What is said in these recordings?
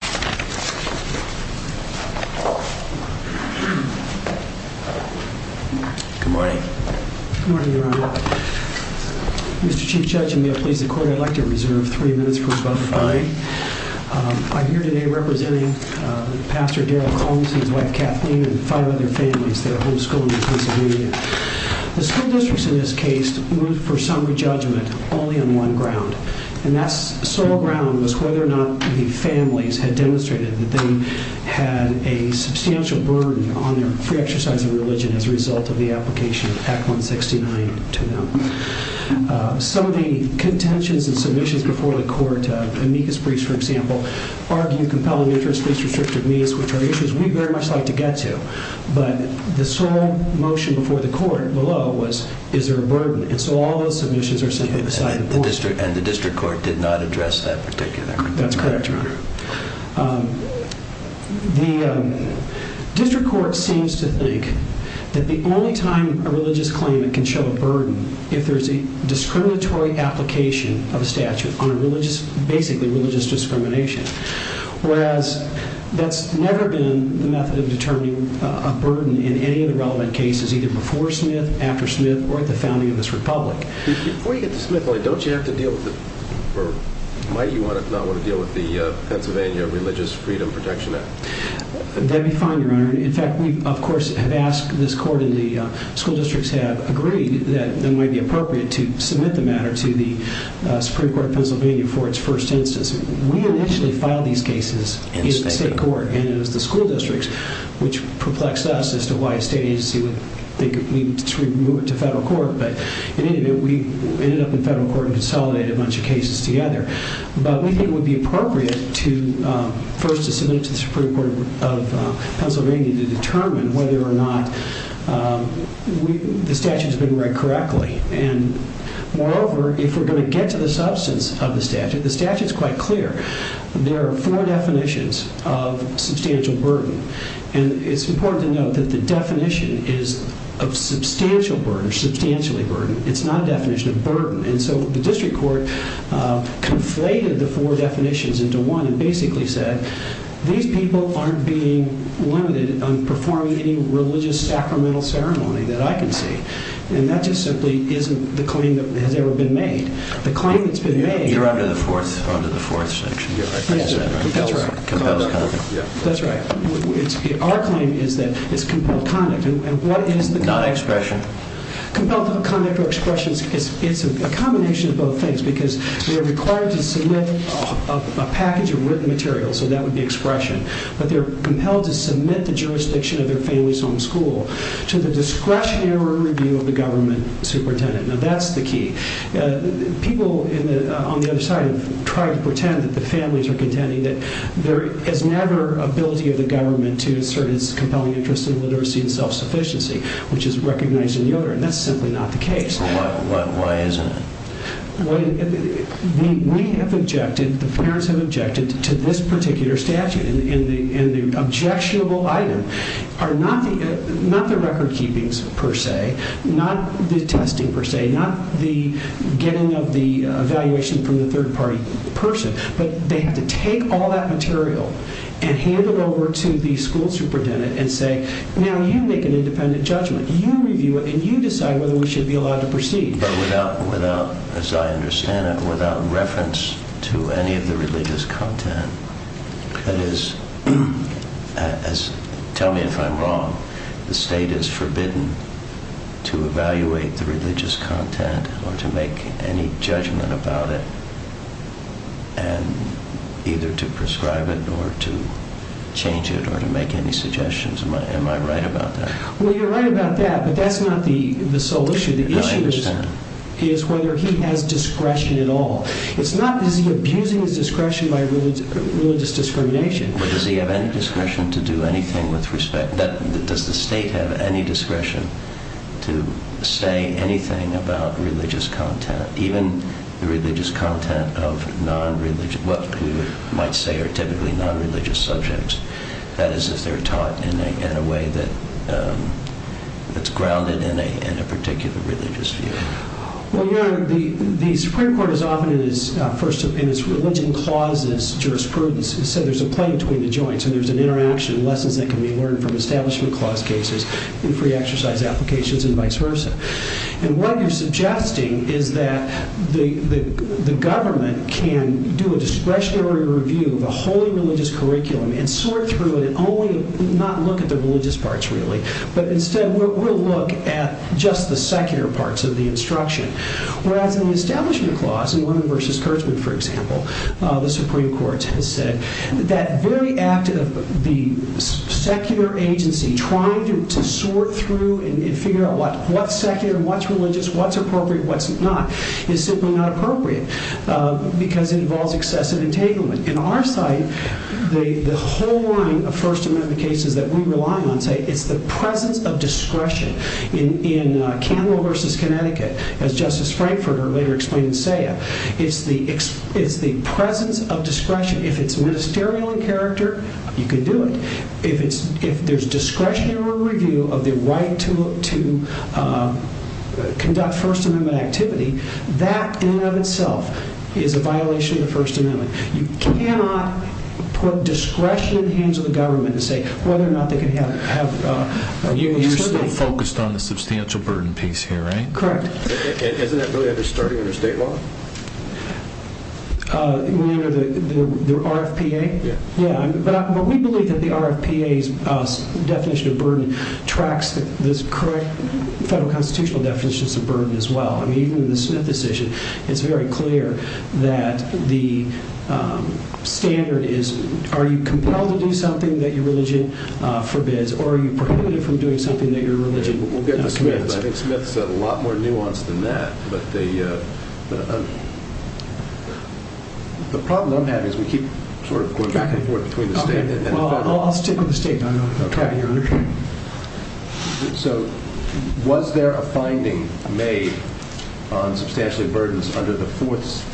Good morning. Good morning everyone. Mr. Chief Judge, I'm pleased to call your elected reserve three minutes before the fine. I'm here today representing Pastor Daryl Holmes and his wife Kathleen and five other families that are homeschooled in Pennsylvania. The school districts in this case went for some judgment only on one ground, and that sole ground was whether or not the families had demonstrated that they had a substantial burden on their free exercise in religion as a result of the application of Act 169 to them. Some of the contentions and submissions before the court, Amicus Priest for example, argued compelling interest, least restrictive means, which are issues we very much like to get to, but the sole motion before the court below was, is there a burden? And so all those submissions are submitted beside the board. And the district court did not address that particular. That's correct. The district court seems to think that the only time a religious claimant can show a burden, if there's a discriminatory application of a statute on a religious, basically religious discrimination, whereas that's never been the method of determining a burden in any of the relevant cases either before Smith, after Smith, or at the founding of this republic. Before you get to Smith, don't you have to deal with, or might you not want to deal with the Pennsylvania Religious Freedom Protection Act? That would be fine, Your Honor. In fact, we of course have asked this court and the school districts have agreed that it might be appropriate to submit the matter to the Supreme Court of Pennsylvania for its first census. We initially filed these cases in the state court, and then to the school districts, which perplexed us as to why it stays to federal court. But we ended up in federal court and consolidated a bunch of cases together. But we think it would be appropriate to first submit to the Supreme Court of Pennsylvania to determine whether or not the statute's been read correctly. And moreover, if we're going to get to the substance of the statute, the statute's quite clear. There are four definitions of substantial burden. And it's important to note that the definition is of substantial burden, substantially burden. It's not a definition of burden. And so the district court conflated the four definitions into one and basically said, these people aren't being limited on performing religious sacramental ceremony that I can see. And that just simply isn't the claim that has ever been made. The claim that's been made... You're under the fourth definition. That's right. Compels conduct. That's right. Our claim is that it's compelled conduct. Not expression. Compelled conduct or expression is a combination of both things because they're required to submit a package of written material, so that would be expression. But they're compelled to submit the jurisdiction of their family's home school to the discretionary review of the government superintendent. Now that's the key. People on the other side try to pretend that the families are contending that there is never ability of the government to assert its compelling interest in literacy and self-sufficiency, which is recognized in the other. And that's simply not the case. Why is that? We have objected, the parents have objected, to this particular statute. And the objectionable are not the record-keepings per se, not the testing per se, not the getting of the evaluation from the third party person. But they have to take all that material and hand it over to the school superintendent and say, now you make an independent judgment. You review it and you decide whether we should be allowed to proceed. But without, as I understand it, without reference to any of the religious content. That is, tell me if I'm wrong, the state is forbidden to evaluate the religious content or to make any judgment about it and either to prescribe it or to change it or to make any suggestions. Am I right about that? Well, you're right about that, but that's not the sole issue. The issue is whether he has discretion at all. It's not that he's abusing his discretion by religious discrimination. Does he have any discretion to do anything with respect, does the state have any discretion to say anything about religious content, even religious content of non-religious, what we might say are typically non-religious subjects. That is, if they're taught in a way that's grounded in a particular religious view. Well, you're right. The Supreme Court has often, as religion clauses jurisprudence, has said there's a play between the joints and there's an interaction of lessons that can be learned from establishment clause cases and pre-exercise applications and vice versa. And what you're suggesting is that the government can do a discretionary review of a whole religious curriculum and sort through it and only not look at the religious parts really, but instead will look at just the secular parts of the instruction. Whereas in the establishment clause, in Women vs. Kurtzman, for example, the Supreme Court has said that very act of the secular agency trying to sort through and figure out what's secular, what's religious, what's appropriate, what's not, is simply not appropriate because it involves excessive entanglement. In our site, the whole wording of First Amendment cases that we rely on say it's the presence of discretion. In Kendall vs. Connecticut, as Justice Frankfurter later explained in SAIA, it's the presence of discretion. If it's ministerial in character, you can do it. If there's discretionary review of the right to conduct First Amendment activity, that in and of itself is a violation of First Amendment. You cannot put discretion in the hands of the government and say whether or not they can have a union utility. You're focused on the substantial burden piece here, right? Correct. Isn't that really under the starting of the state law? Under the RFPA? Yeah. Yeah, but we believe that the RFPA's definition of burden tracks this current federal constitutional definition of burden as well. Even in the Smith decision, it's very clear that the standard definition is, are you compelled to do something that your religion forbids, or are you prohibited from doing something that your religion forbids? I think Smith is a lot more nuanced than that, but the problem we'll have is we keep going back and forth between the same thing. I'll stick with the state. I don't know if I'm tracking you correctly. Was there a finding made on substantial burdens under the fourth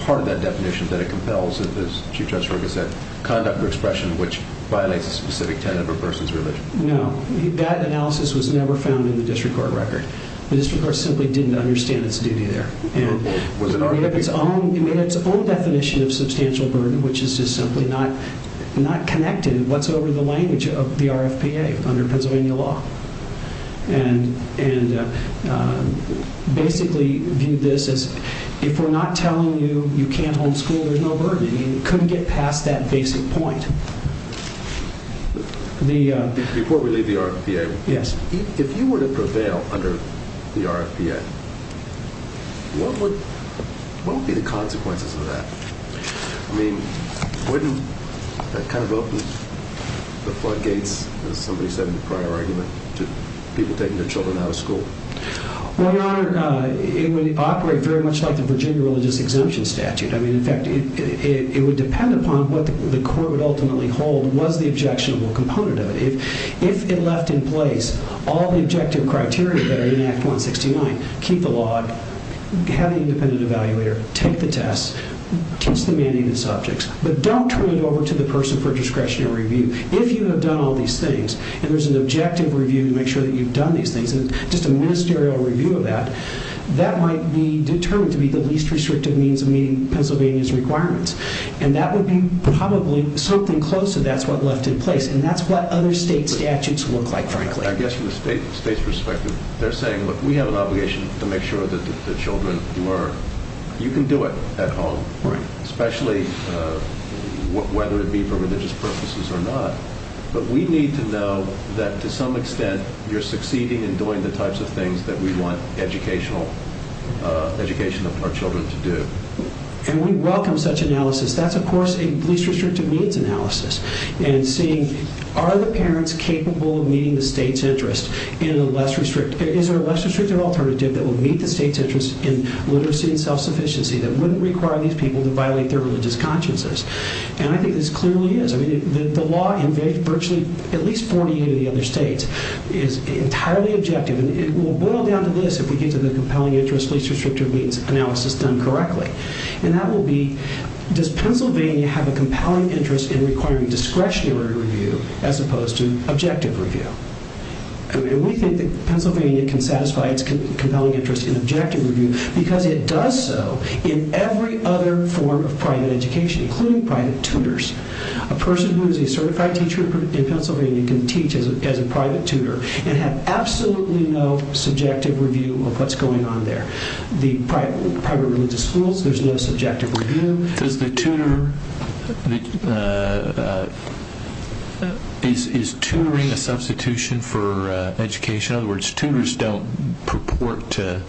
part of that definition that compels, as the Chief Justice already said, conduct or expression which violates a specific standard versus religion? No. That analysis was never found in the district court record. The district court simply didn't understand its duty there. Was it not? It had its own definition of substantial burden, which is just simply not connected whatsoever to the language of the RFPA under Pennsylvania law. Basically, view this as if we're not telling you you can't home school, there's no burden. It couldn't get past that basic point. Before we leave the RFPA, if you were to go bail under the RFPA, what would be the consequences of that? I mean, wouldn't that kind of go up the floodgates, as somebody said in the prior argument, to people taking their children out of school? Well, Your Honor, it would operate very much like the Virginia Religious Exemption Statute. I mean, in fact, it would depend upon what the court would ultimately hold was the objectionable component of it. If it left in place all the objective criteria that are in Act 169, keep the law, have an independent evaluator, take the tests, just the management subjects, but don't turn it over to the person for discretionary review. If you have done all these things, and there's an objective review to make sure that you've done these things, just a ministerial review of that, that might be determined to be the least restrictive means meeting Pennsylvania's requirements. And that would be probably something close to that's what left in place, and that's what other state statutes look like. I guess from the state's perspective, they're saying, look, we have an obligation to make sure that the children learn. You can do it at home, especially whether it be for religious purposes or not. But we need to know that, to some extent, you're succeeding in doing the types of things that we want educational children to do. And we welcome such analysis. That's, of course, a least restrictive means analysis. And seeing, are the parents capable of meeting the state's interests in a less restrictive, is there a less restrictive alternative that will meet the state's interests in literacy and self-sufficiency that wouldn't require these people to violate their religious consciences? And I think this clearly is. I mean, the law in virtually at least 48 other states is entirely objective. It will boil down to this if we get to the compelling interest, least restrictive means analysis done correctly. And that will be, does Pennsylvania have a compelling interest in requiring discretionary review as opposed to objective review? And we think that Pennsylvania can satisfy its compelling interest in objective review because it does so in every other form of private education, including private tutors. A person who is a certified teacher in Pennsylvania can teach as a private tutor and have absolutely no subjective review of what's going on there. The private religious schools, there's no subjective review. Does the tutor, is tutoring a substitution for education? In other words, tutors don't purport to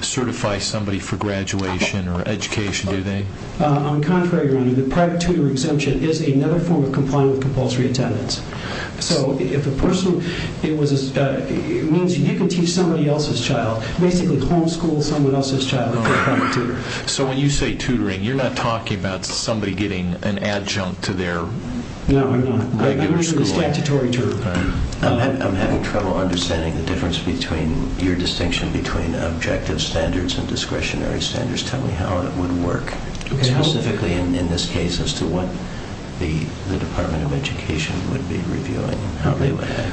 certify somebody for graduation or education, do they? On the contrary, the private tutor exemption is another form of compulsory attendance. So if a person, it means you didn't teach somebody else's child, basically homeschool someone else's child to become a tutor. So when you say tutoring, you're not talking about somebody getting an adjunct to their I'm having trouble understanding the difference between your distinction between objective standards and discretionary standards. Tell me how it would work specifically in this case as to what the Department of Education would be reviewing.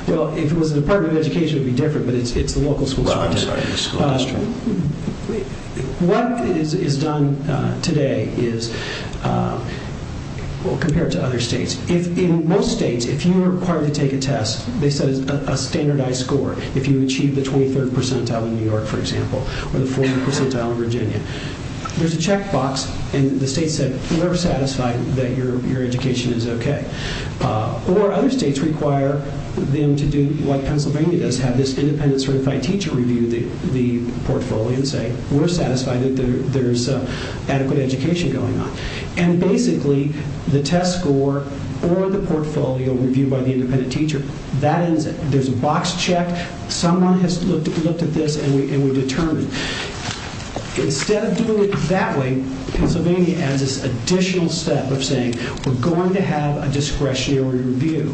Well, the Department of Education would be different, but it's the local school district. What is done today is, compared to other states, in most states, if you are required to take a test that says a standardized score, if you achieve the 23rd percentile in New York, for example, or the 40th percentile in Virginia, there's a checkbox and the state says you are satisfied that your education is okay. Or other states require them to do what Pennsylvania does, have this independent certified teacher review the portfolio and say we're satisfied that there's adequate education going on. And basically, the test score or the portfolio reviewed by the independent teacher, there's a box check, someone has looked at this and we're determined. Instead of doing it that way, Pennsylvania has this additional set of saying we're going to have a discretionary review.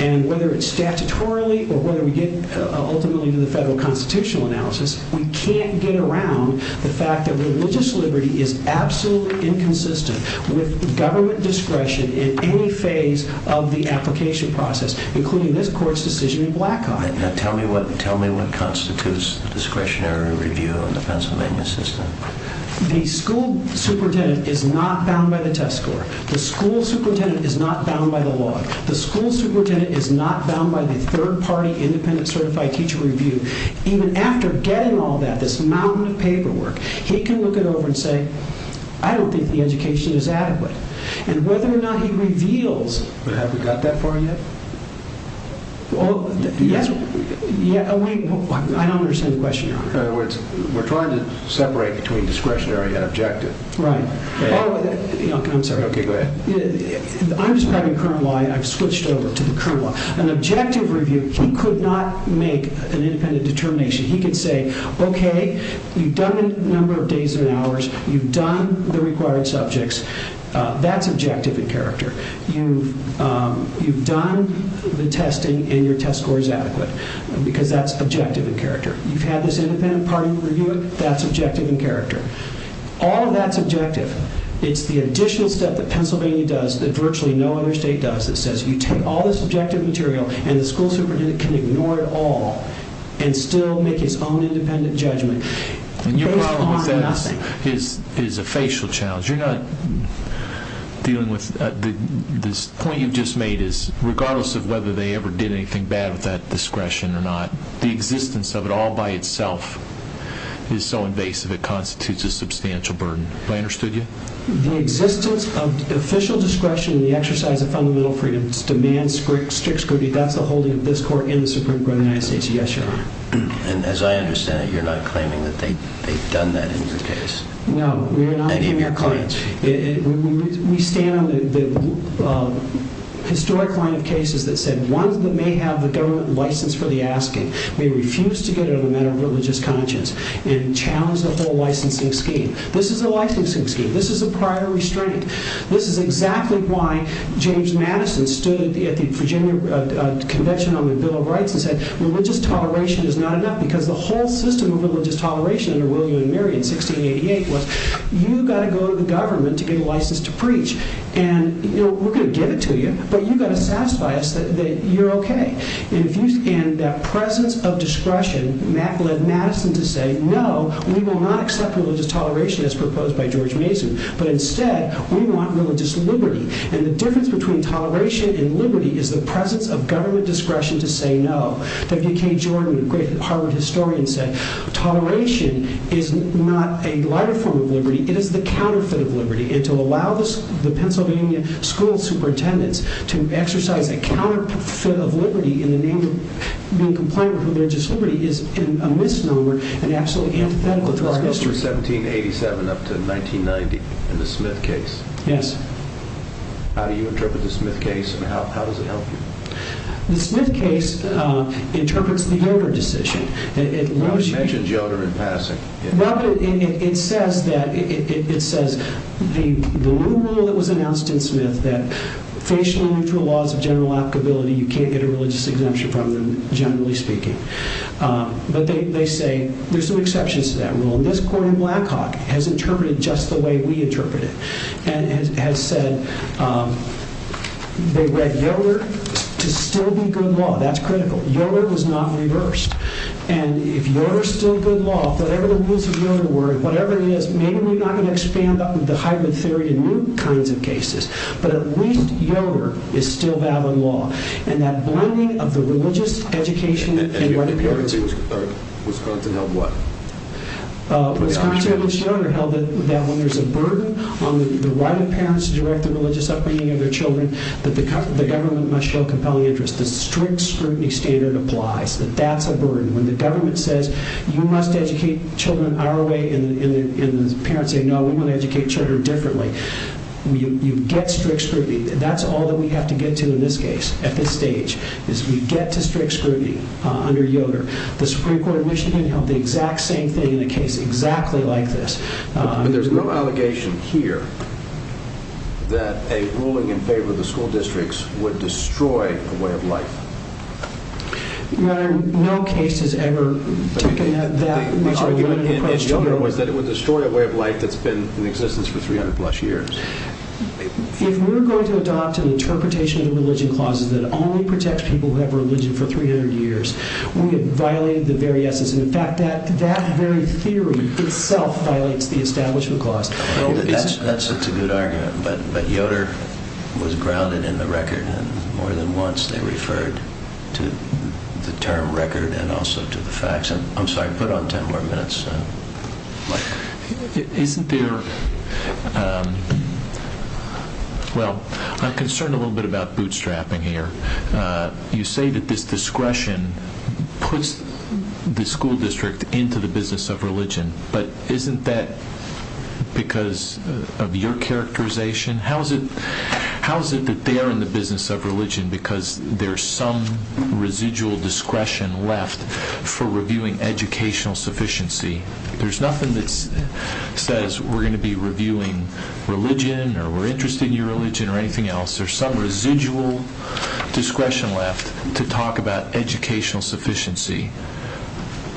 And whether it's statutorily or whether we get ultimately in the federal constitutional analysis, we can't get around the fact that religious liberty is absolutely inconsistent with government discretion in any phase of the application process, including this court's decision in Black Rod. Tell me what constitutes discretionary review in the Pennsylvania system. The school superintendent is not bound by the test score. The school superintendent is not bound by the law. The school superintendent is not bound by the third party independent certified teacher review. Even after getting all that, this mountain of paperwork, he can look it over and say I don't think the education is adequate. And whether or not he reveals... But have we got that far yet? I don't understand the question. In other words, we're trying to separate between discretionary and objective. Right. I'm sorry. Okay, go ahead. I'm describing current law and I've switched over to current law. An objective review, he could not make an independent determination. He could say, okay, you've done the number of days and hours, you've done the required subjects, that's objective in character. You've had this independent party review it, that's objective in character. All of that's objective. It's the additional stuff that Pennsylvania does that virtually no other state does. It says you take all this objective material and the school superintendent can ignore it all and still make his own independent judgment. It's a facial challenge. You're not dealing with... The point you just made is regardless of whether they ever did anything bad with that discretion or not, the existence of it all by itself is so invasive it constitutes a substantial burden. Have I understood you? The existence of official discretion in the exercise of fundamental freedoms demands strict scrutiny. That's the holding of this court and the Supreme Court of the United States. Yes, Your Honor. And as I understand it, you're not claiming that they've done that in your case. No, we're not in your claims. We stand on the historic line of cases that said one may have a government license for the asking. They refused to get it on the matter of religious conscience and challenged the whole licensing scheme. This is a licensing scheme. This is a prior restraint. This is exactly why James Madison stood at the convention on the Bill of Rights and said religious toleration is not enough because the whole system of religious toleration in William and Mary in 1688 was you've got to go to the government to get a license to preach. And we're going to give it to you. But you've got to satisfy us that you're okay. And the presence of discretion led Madison to say no, we will not accept religious toleration as proposed by George Mason, but instead we want religious liberty. And the difference between toleration and liberty is the presence of government discretion to say no. D.K. Jordan, a great Harvard historian, said toleration is not a wider form of liberty. It is the counterfeit of liberty. And to allow the Pennsylvania school superintendents to exercise a counterfeit of liberty in the name of being compliant with religious liberty is a misnomer and absolutely antithetical to our history. From 1787 up to 1990 in the Smith case. Yes. How do you interpret the Smith case and how does it help you? The Smith case interprets the Yoder decision. It mentions Yoder in passing. It says that the rule that was announced in Smith, that patiently through laws of general applicability you can't get a religious exemption from them, generally speaking. But they say there's some exceptions to that rule. And this court in Blackhawk has interpreted it just the way we interpreted it. And has said they read Yoder to still be good law. That's critical. Yoder was not reversed. And if Yoder is still good law, whatever the rules of Yoder were, whatever it is, maybe we're not going to expand on the hybrid theory in new kinds of cases. But at least Yoder is still valid law. And that burning of the religious education and right of parents. And Yoder was held what? Yoder held that when there's a burden on the right of parents to direct the religious upbringing of their children, that the government must show a compelling interest. The strict scrutiny standard applies. That that's a burden. When the government says, you must educate children our way and the parents say, no, we want to educate children differently. You get strict scrutiny. And that's all that we have to get to in this case, at this stage, is you get to strict scrutiny under Yoder. The Supreme Court in Michigan held the exact same thing in a case exactly like this. There's no allegation here that a ruling in favor of the school districts would destroy the story of the way of life. There are no cases ever to connect that with the story of the way of life that's been in existence for 300 plus years. If we're going to adopt an interpretation of religion clause that only protects people who have religion for 300 years, wouldn't it violate the very essence? In fact, that very theory itself violates the establishment clause. That's such a good argument. But Yoder was grounded in the record. More than once, they referred to the term record and also to the facts. I'm sorry to put on 10 more minutes. Well, I'm concerned a little bit about bootstrapping here. You say that this discretion puts the school district into the business of religion, but isn't that because of your characterization? How is it that they are in the business of religion because there's some residual discretion left for reviewing educational sufficiency? There's nothing that says we're going to be reviewing religion or we're interested in your religion or anything else. There's some residual discretion left to talk about educational sufficiency.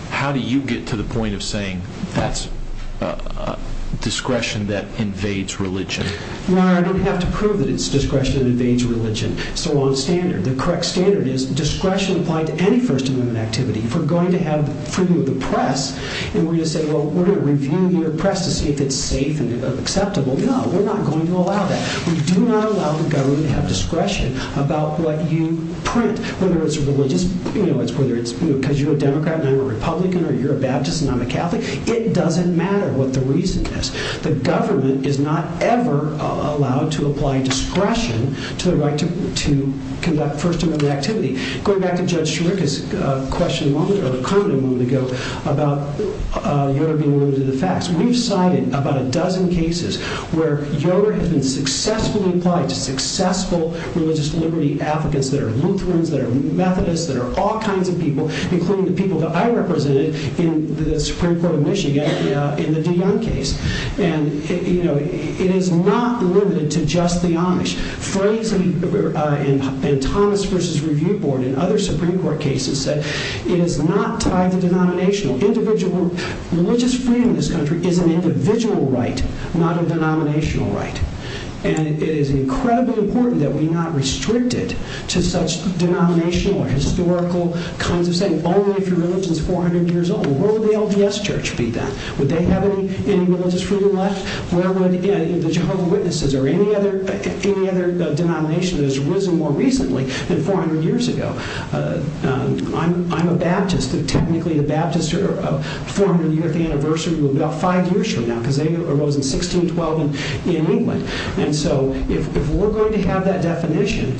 How do you get to the point of saying that's discretion that invades religion? Your Honor, I don't have to prove that it's discretion that invades religion. It's the wrong standard. The correct standard is discretion applied to any first amendment activity. If we're going to have a preview of the press and we're going to say, well, we're going to review the press to see if it's safe and acceptable. No, we're not going to allow that. We do not allow for government to have discretion about what you print, whether it's religious whether it's because you're a Democrat and I'm a Republican or you're a Baptist and I'm a Catholic. It doesn't matter what the reason is. The government is not ever allowed to apply discretion to the right to conduct first amendment activity. Going back to Judge Shrink's question a moment ago about your view of the facts, we've cited about a dozen cases where your has been successful in price, successful religious liberty advocates that are Lutherans, that are Methodists, that are all kinds of people, including the people that I represented in the Supreme Court of Michigan in the Dion case. And it is not limited to just the Amish. Fred and Thomas versus Review Board and other Supreme Court cases that it is not tied to denominational. Individual religious freedom in this country is an individual right, not a denominational right. And it is incredibly important that we not restrict it to such denominational or historical kinds of things, only if your religion is 400 years old. Where would the LDS church be then? Would they have any religious freedom left? Where would the Jehovah's Witnesses or any other denomination that has risen more recently than 400 years ago? I'm a Baptist, but technically the Baptists are 400 year anniversary about five years ago. And so if we're going to have that definition,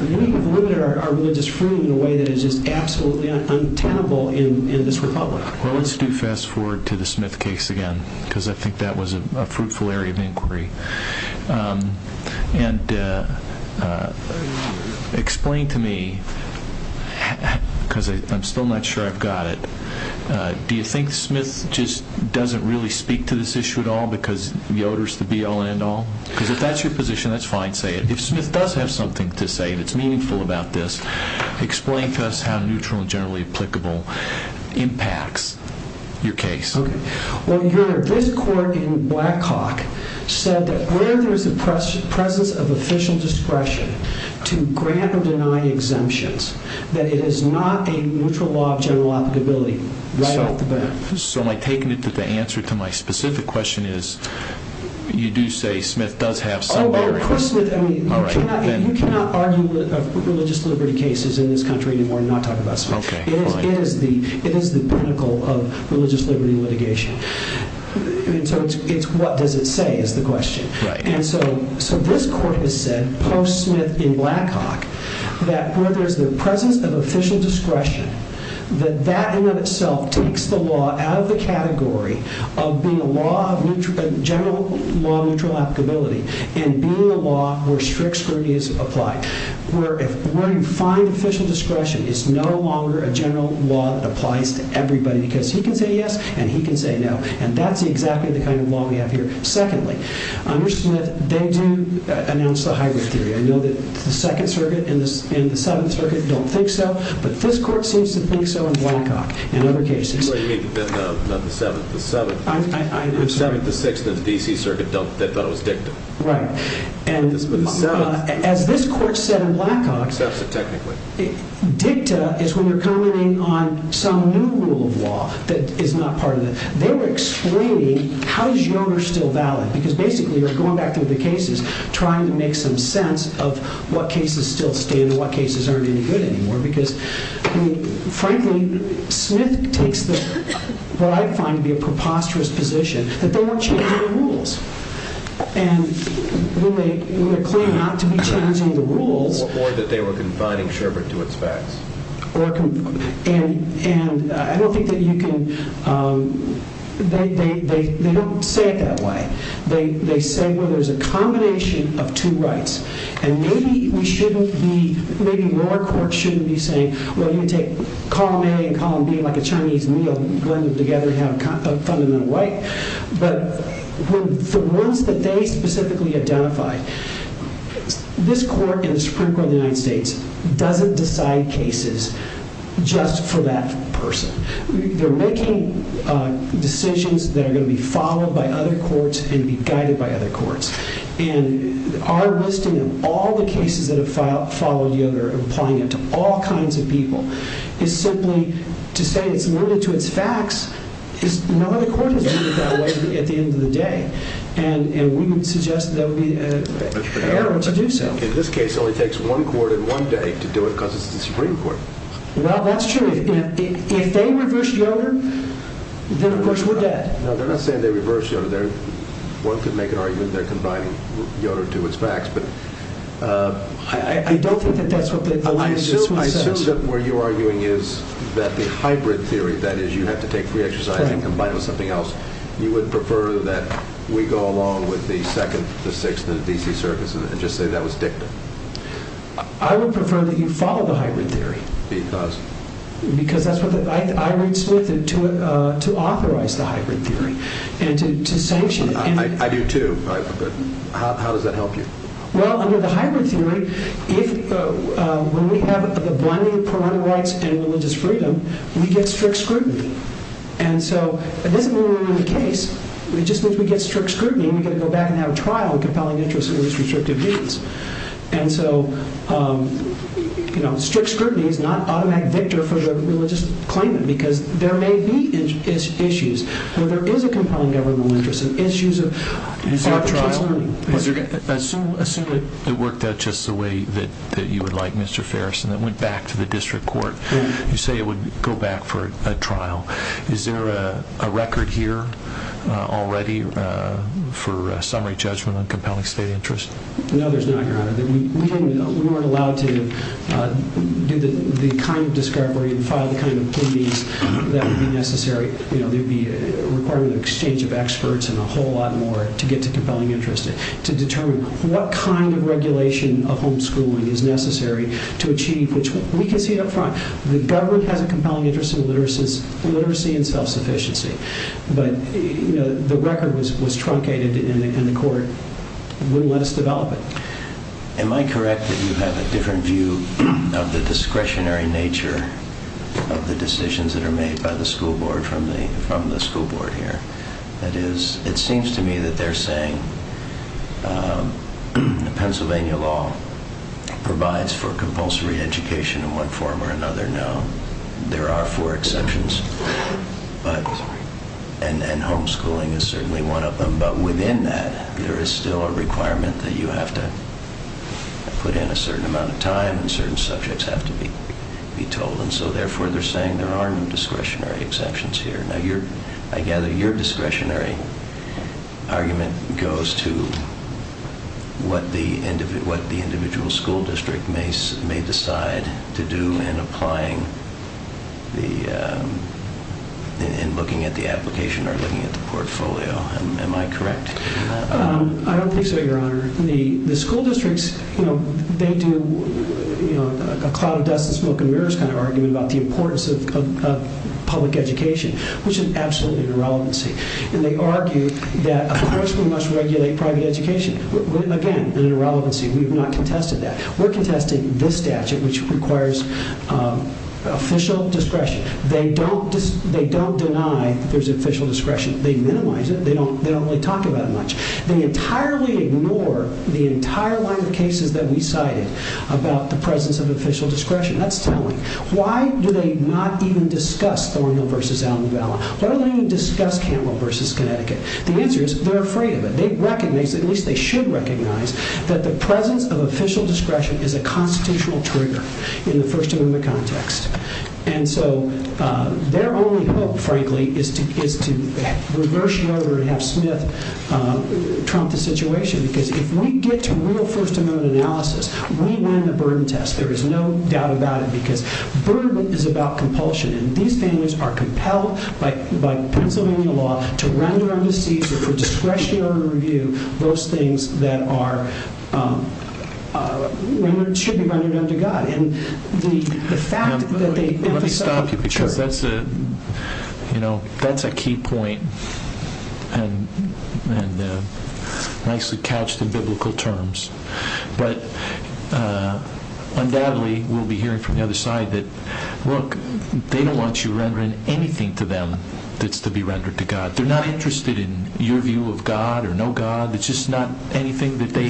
we need to limit our religious freedom in a way that is absolutely untenable in this republic. Let's fast forward to the Smith case again, because I think that was a fruitful area of inquiry. And explain to me, because I'm still not sure I've got it, do you think Smith just doesn't really speak to this issue at all because Yoder's the BLNO? Because if that's your position, that's fine. Say it. If Smith does have something to say that's meaningful about this, explain to us how neutral and generally applicable impacts your case. Okay. Well, your district court in Blackhawk said that whenever there's a presence of official discretion to grant or deny exemptions, that it is not a neutral law of generalizability right off the bat. So am I taking it that the answer to my specific question is you do say Smith does have something to say? Oh, of course. You cannot argue religious liberty cases in this country anymore and not talk about Smith. Okay. It is the pinnacle of religious liberty litigation. And so it's what does it say is the question. Right. And so this court has said, post-Smith in Blackhawk, that whenever there's the presence of official discretion, that that in and of itself takes the law out of the category of being a law of general law neutral applicability and being a law where strict scrutiny is applied. Where you find official discretion is no longer a general law that applies to everybody because he can say yes and he can say no. And that's exactly the kind of law we have here. Secondly, under Smith, they do announce the high risk area. We know that the Second Circuit and the Seventh Circuit don't think so. But this court seems to think so in Blackhawk and other cases. So you're making them the Seventh. The Seventh. I understand. The Seventh, the Sixth, and the D.C. Circuit don't. They thought it was DICTA. Right. And as this court said in Blackhawk. Technically. DICTA is when you're commenting on some new rule of law that is not part of it. They're explaining how these rules are still valid. Because basically you're going back to the cases, trying to make some sense of what cases still stay and what cases aren't any good anymore. Because frankly, Smith takes what I find to be a preposterous position. That they want you to hear the rules. And when they claim not to be changing the rules. Or that they were confining Sherbert to its facts. And I don't think that you can. They don't say it that way. They say, well, there's a combination of two rights. And maybe we shouldn't be. Maybe your court shouldn't be saying, well, you take column A and column B like a Chinese meal. You blend them together to have a fundamental right. But the rules that they specifically identify. This court is critical of the United States. It doesn't decide cases just for that person. They're making decisions that are going to be followed by other courts. And be guided by other courts. And our listing of all the cases that have followed the other, applying it to all kinds of people, is simply to say it's worded to its facts. No other court would do that at the end of the day. And we would suggest that we prepare them to do so. In this case, it only takes one court in one day to do it because it's the Supreme Court. Well, that's true. If they reverse Yoder, then of course we're dead. No, they're not saying they reverse Yoder. One could make an argument they're combining Yoder to its facts. I don't think that's what they're doing. I assume that where you're arguing is that the hybrid theory, that is you have to take three exercises and combine them with something else, you would prefer that we go along with the second, the sixth, and the D.C. surfaces and just say that was dictum? I would prefer that you follow the hybrid theory. Because? Because that's what I would submit to authorize the hybrid theory. And to sanction it. I do too. How does that help you? Well, under the hybrid theory, when we have a blending of criminal rights and religious freedom, we get strict scrutiny. And then when we're in the case, it's just that we get strict scrutiny and we have to go back and have a trial to compel an interest in this restrictive case. And so strict scrutiny is not automatic victor for the religious claimant because there may be issues. So there is a compelling evidence of religious issues of arbitration. Assume that it worked out just the way that you would like, Mr. Ferris, and it went back to the district court. You say it would go back for a trial. Is there a record here already for summary judgment on compelling state interest? No, there's not, Your Honor. We weren't allowed to do the kind of discovery and file the kind of opinions that would be necessary. There would be a requirement of exchange of experts and a whole lot more to get to compelling interest, to determine what kind of regulation of homeschooling is necessary to achieve which we can see up front. The government has a compelling interest in literacy and self-sufficiency, but the record was truncated in court. Let's develop it. Am I correct that you have a different view of the discretionary nature of the decisions that are made by the school board from the school board here? It seems to me that they're saying Pennsylvania law provides for compulsory education in one form or another. No, there are four exceptions, and then homeschooling is certainly one of them. But within that, there is still a requirement that you have to put in a certain amount of time and certain subjects have to be told, and so therefore they're saying there are discretionary exceptions here. I gather your discretionary argument goes to what the individual school district may decide to do in applying and looking at the application or looking at the portfolio. Am I correct? I don't think so, Your Honor. The school districts, you know, they do a cloud of dust and smoke and mirrors and argue about the importance of public education, which is absolutely an irrelevancy, and they argue that a public school must regulate private education. Again, an irrelevancy. We have not contested that. We're contesting this statute, which requires official discretion. They don't deny there's official discretion. They minimize it. They don't really talk about it much. They entirely ignore the entire line of cases that we cited about the presence of official discretion. That's telling. Why do they not even discuss Gorman v. Downey Valley? Why don't they even discuss Campbell v. Connecticut? The answer is they're afraid of it. They recognize, at least they should recognize, that the presence of official discretion is a constitutional trigger in the first amendment context, and so their only hope, frankly, is to reverse order and have Smith trump the situation because if we get to real first amendment analysis, we land the burden test. There is no doubt about it because burden is about compulsion, and these things are compelled by the principle of the law to run it under seizure or discretionary review those things that should be running under the gun. Let me stop you because that's a key point, and it's nice to catch the biblical terms, but undoubtedly we'll be hearing from the other side that, look, they don't want you rendering anything to them that's to be rendered to God. They're not interested in your view of God or no God. It's just not anything that they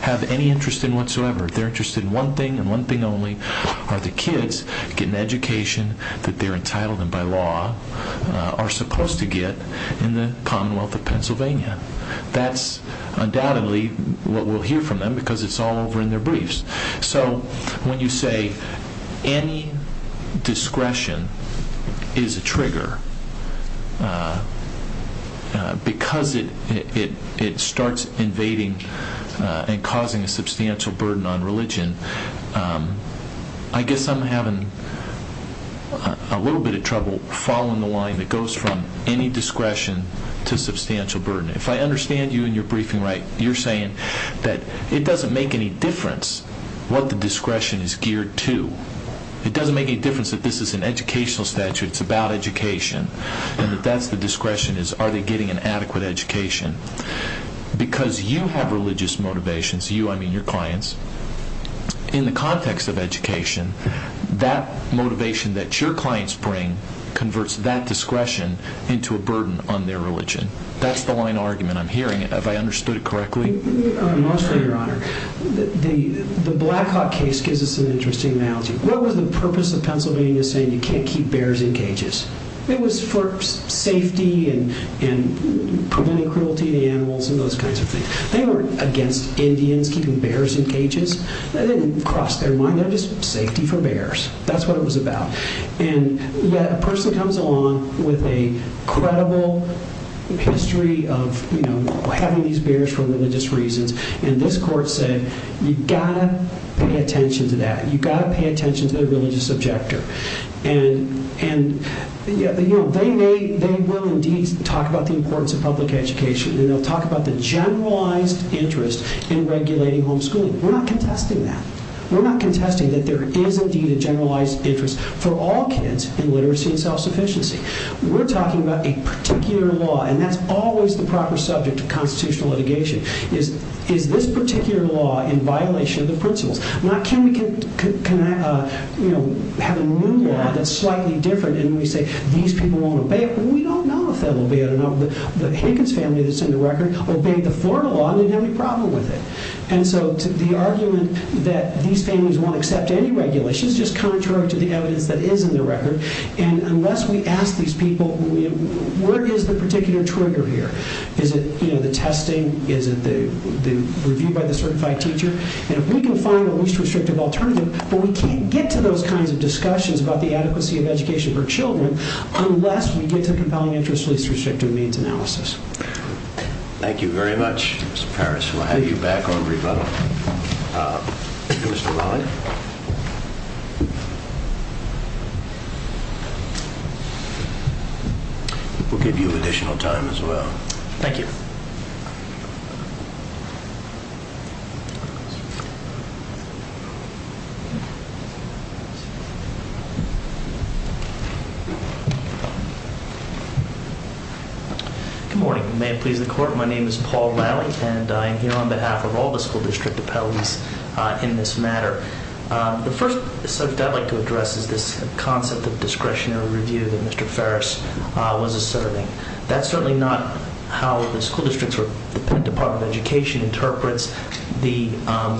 have any interest in whatsoever. If they're interested in one thing and one thing only are the kids getting education that they're entitled to by law are supposed to get in the Commonwealth of Pennsylvania. That's undoubtedly what we'll hear from them because it's all over in their briefs. So when you say any discretion is a trigger because it starts invading and causing a substantial burden on religion, I guess I'm having a little bit of trouble following the line that goes from any discretion to substantial burden. If I understand you in your briefing right, you're saying that it doesn't make any difference what the discretion is geared to. It doesn't make any difference that this is an educational statute, it's about education, and that that's the discretion is are they getting an adequate education. Because you have religious motivations, you, I mean your clients, in the context of education that motivation that your clients bring converts that discretion into a burden on their religion. That's the line of argument I'm hearing. Have I understood it correctly? Most greatly, your honor. The Black Hawk case gives us an interesting analogy. What was the purpose of Pennsylvania saying you can't keep bears in cages? It was for safety and preventing cruelty to animals and those kinds of things. They weren't against Indians keeping bears in cages. That didn't cross their mind. That was safety for bears. That's what it was about. A person comes along with a credible history of having these bears for religious reasons, and this court said you've got to pay attention to that. You've got to pay attention to their religious objective. They will indeed talk about the importance of public education, and they'll talk about the generalized interest in regulating homeschooling. We're not contesting that. We're not contesting that there is indeed a generalized interest for all kids in literacy and self-sufficiency. We're talking about a particular law, and that's always the proper subject of constitutional litigation. Is this particular law in violation of the principles? Can we have a new law that's slightly different and we say these people won't obey it? We don't know if they'll obey it or not. The Higgins family that's in the record obeyed the Florida law and we have no problem with it. The argument that these families won't accept any regulations is just contrary to the evidence that is in the record, and unless we ask these people where is the particular trigger here? Is it the testing? Is it the review by the certified teacher? If we can find a least restrictive alternative, but we can't get to those kinds of discussions about the adequacy of education for children unless we get to compound interest in least restrictive means analysis. Thank you very much, Mr. Parrish. So I'll hand you back over to Mr. Lally. We'll give you additional time as well. Thank you. Good morning. My name is Paul Lally and I'm here on behalf of all the school district appellees in this matter. The first thing I'd like to address is this concept of discretionary review that Mr. Parrish was asserting. That's certainly not how the school district's Department of Education interprets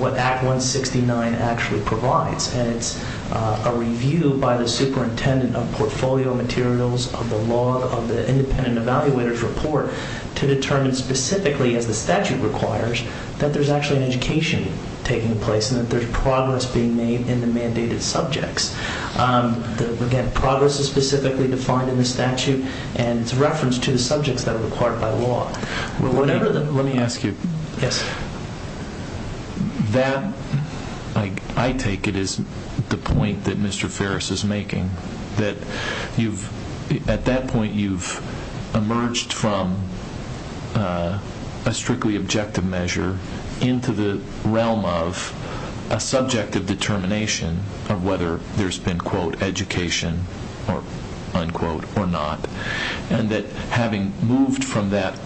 what Act 169 actually provides, and it's a review by the superintendent of portfolio materials on the law of the independent evaluator's report to determine specifically if the statute requires that there's actually an education taking place and that there's progress being made in the mandated subjects. Again, progress is specifically defined in the statute and it's a reference to the subjects that are required by law. Let me ask you. Yes, sir. That, I take it, is the point that Mr. Parrish is making, that at that point you've emerged from a strictly objective measure into the realm of a subjective determination of whether there's been, quote, education, unquote, or not, and that having moved from that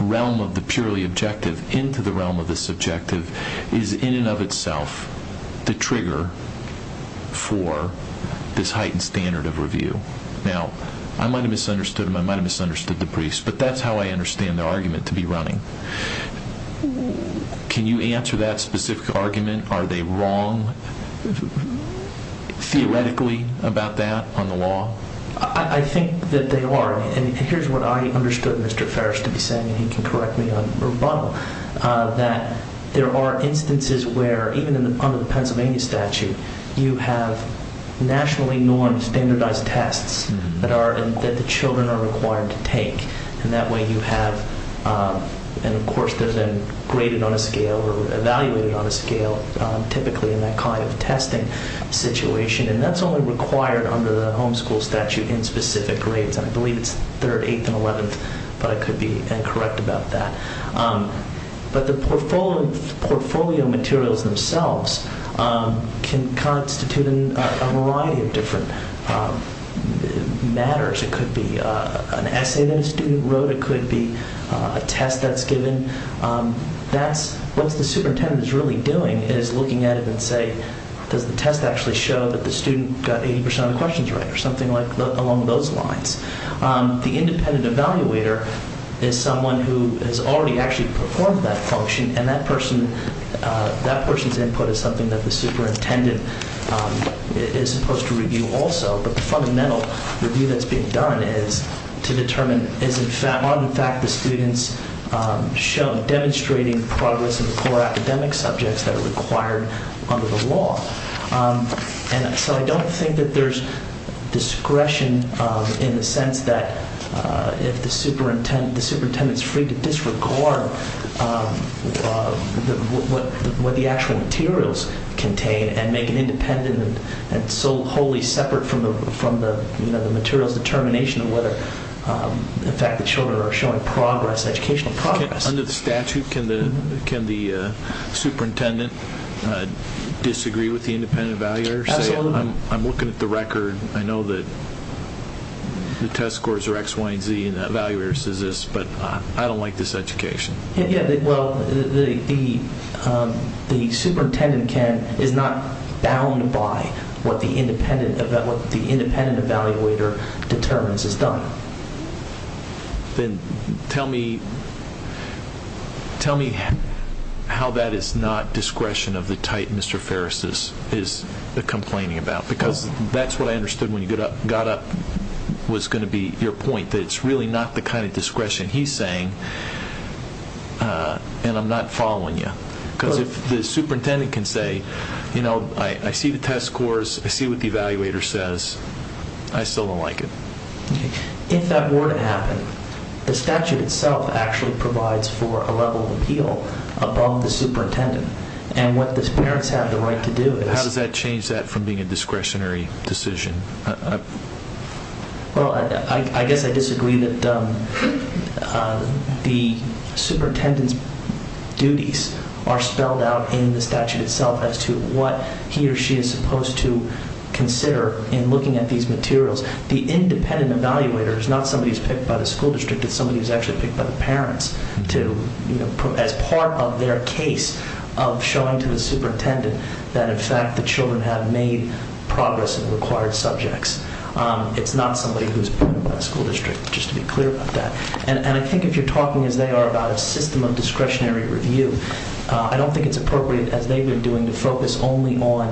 realm of the purely objective into the realm of the subjective is, in and of itself, the trigger for this heightened standard of review. Now, I might have misunderstood him, I might have misunderstood the priest, but that's how I understand their argument to be running. Can you answer that specific argument? Are they wrong, theoretically, about that on the law? I think that they are. And here's what I understood Mr. Parrish to be saying, and he can correct me if I'm wrong, that there are instances where, even under the Pennsylvania statute, you have nationally non-standardized tests that the children are required to take. And that way you have, and of course there's a graded on a scale, or evaluated on a scale, typically in that kind of testing situation, and that's only required under the homeschool statute in specific grades. I believe third, eighth, and eleventh, but I could be incorrect about that. But the portfolio materials themselves can constitute a variety of different matters. It could be an essay that a student wrote, it could be a test that's given. What the superintendent is really doing is looking at it and saying, does the test actually show that the student got 80% of the questions right, or something along those lines. The independent evaluator is someone who has already actually performed that function, and that person's input is something that the superintendent is supposed to review also. But the fundamental review that's being done is to determine, is it flat on the fact that students show demonstrating progress in the core academic subjects that are required under the law. And so I don't think that there's discretion in the sense that if the superintendent is free to disregard what the actual materials contain and make it independent and so wholly separate from the materials determination of whether the fact that children are showing progress, educational progress. Under the statute, can the superintendent disagree with the independent evaluator? I'm looking at the record. I know that the test scores are X, Y, and Z, and the evaluator says this, but I don't like this education. Well, the superintendent is not bound by what the independent evaluator determines is done. Then tell me how that is not discretion of the type Mr. Ferris is complaining about, because that's what I understood when you got up was going to be your point, that it's really not the kind of discretion he's saying, and I'm not following you. Because the superintendent can say, you know, I see the test scores, I see what the evaluator says, and I still don't like it. If that were to happen, the statute itself actually provides for a level of appeal above the superintendent, and what the parents have the right to do is How does that change that from being a discretionary decision? Well, I guess I disagree that the superintendent's duties are spelled out in the statute itself as to what he or she is supposed to consider in looking at these materials. The independent evaluator is not somebody who's picked by the school district, it's somebody who's actually picked by the parents as part of their case of showing to the superintendent that in fact the children have made progress in required subjects. It's not somebody who's picked by the school district, just to be clear about that. And I think if you're talking as they are about a system of discretionary review, I don't think it's appropriate as they've been doing to focus only on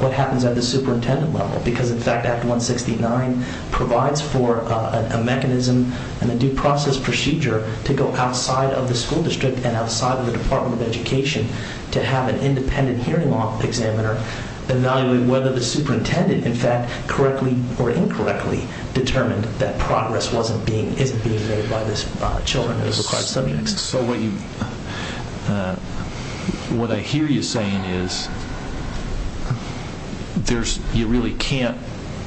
what happens at the superintendent level, because in fact Act 169 provides for a mechanism and a due process procedure to go outside of the school district and outside of the Department of Education to have an independent hearing law examiner evaluate whether the superintendent, in fact, correctly or incorrectly determined that progress wasn't being made by the children in those required subjects. So what I hear you saying is you really can't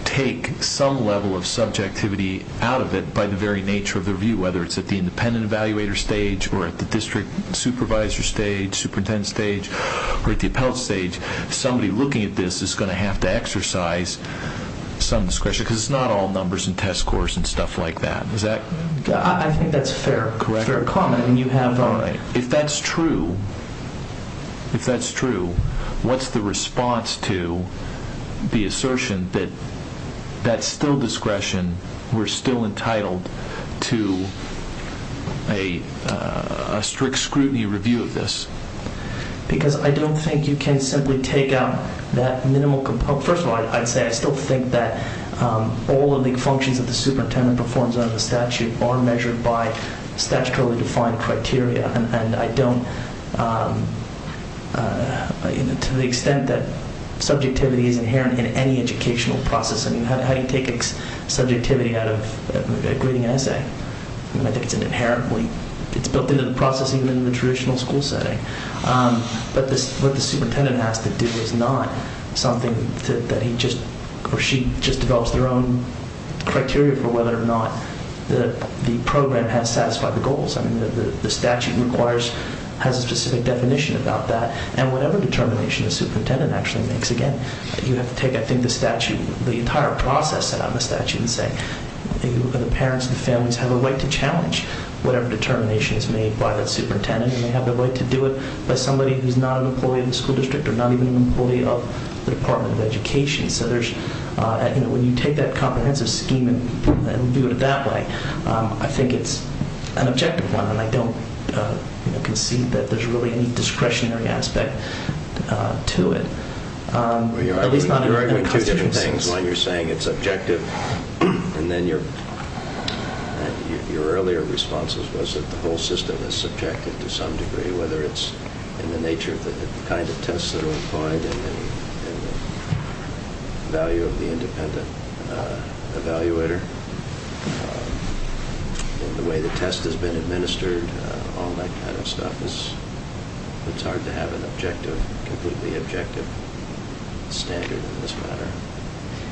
take some level of subjectivity out of it by the very nature of the review, whether it's at the independent evaluator stage or at the district supervisor stage, superintendent stage, or at the appellate stage. Somebody looking at this is going to have to exercise some discretion, because it's not all numbers and test scores and stuff like that. I think that's fair comment, and you have it all right. If that's true, what's the response to the assertion that that's still discretion, we're still entitled to a strict scrutiny review of this? Because I don't think you can simply take out that minimal component. First of all, I'd say I still think that all of the functions that the superintendent performs under the statute are measured by statutorily defined criteria, and to the extent that subjectivity is inherent in any educational process, I mean, how do you take subjectivity out of a grading essay? You can't do it inherently. It's built into the process even in the traditional school setting. What the superintendent has to do is not something that he or she just develops their own criteria for whether or not the program has satisfied the goals. I mean, the statute has a specific definition about that, and whatever determination the superintendent actually makes, again, you have to take, I think, the entire process out of the statute and say, the parents and families have a right to challenge whatever determination is made by the superintendent. They have the right to do it as somebody who's not an employee of the school district or not even an employee of the Department of Education. So I think when you take that comprehensive scheme and do it that way, I think it's an objective one, and I don't concede that there's really any discretionary aspect to it. Well, you're arguing two different things. One, you're saying it's objective, and then your earlier response was that the whole system is subjective to some degree, whether it's in the nature of the kinds of tests that are required and the value of the independent evaluator and the way the test has been administered, all that kind of stuff. It's hard to have an objective, completely objective standard in this matter.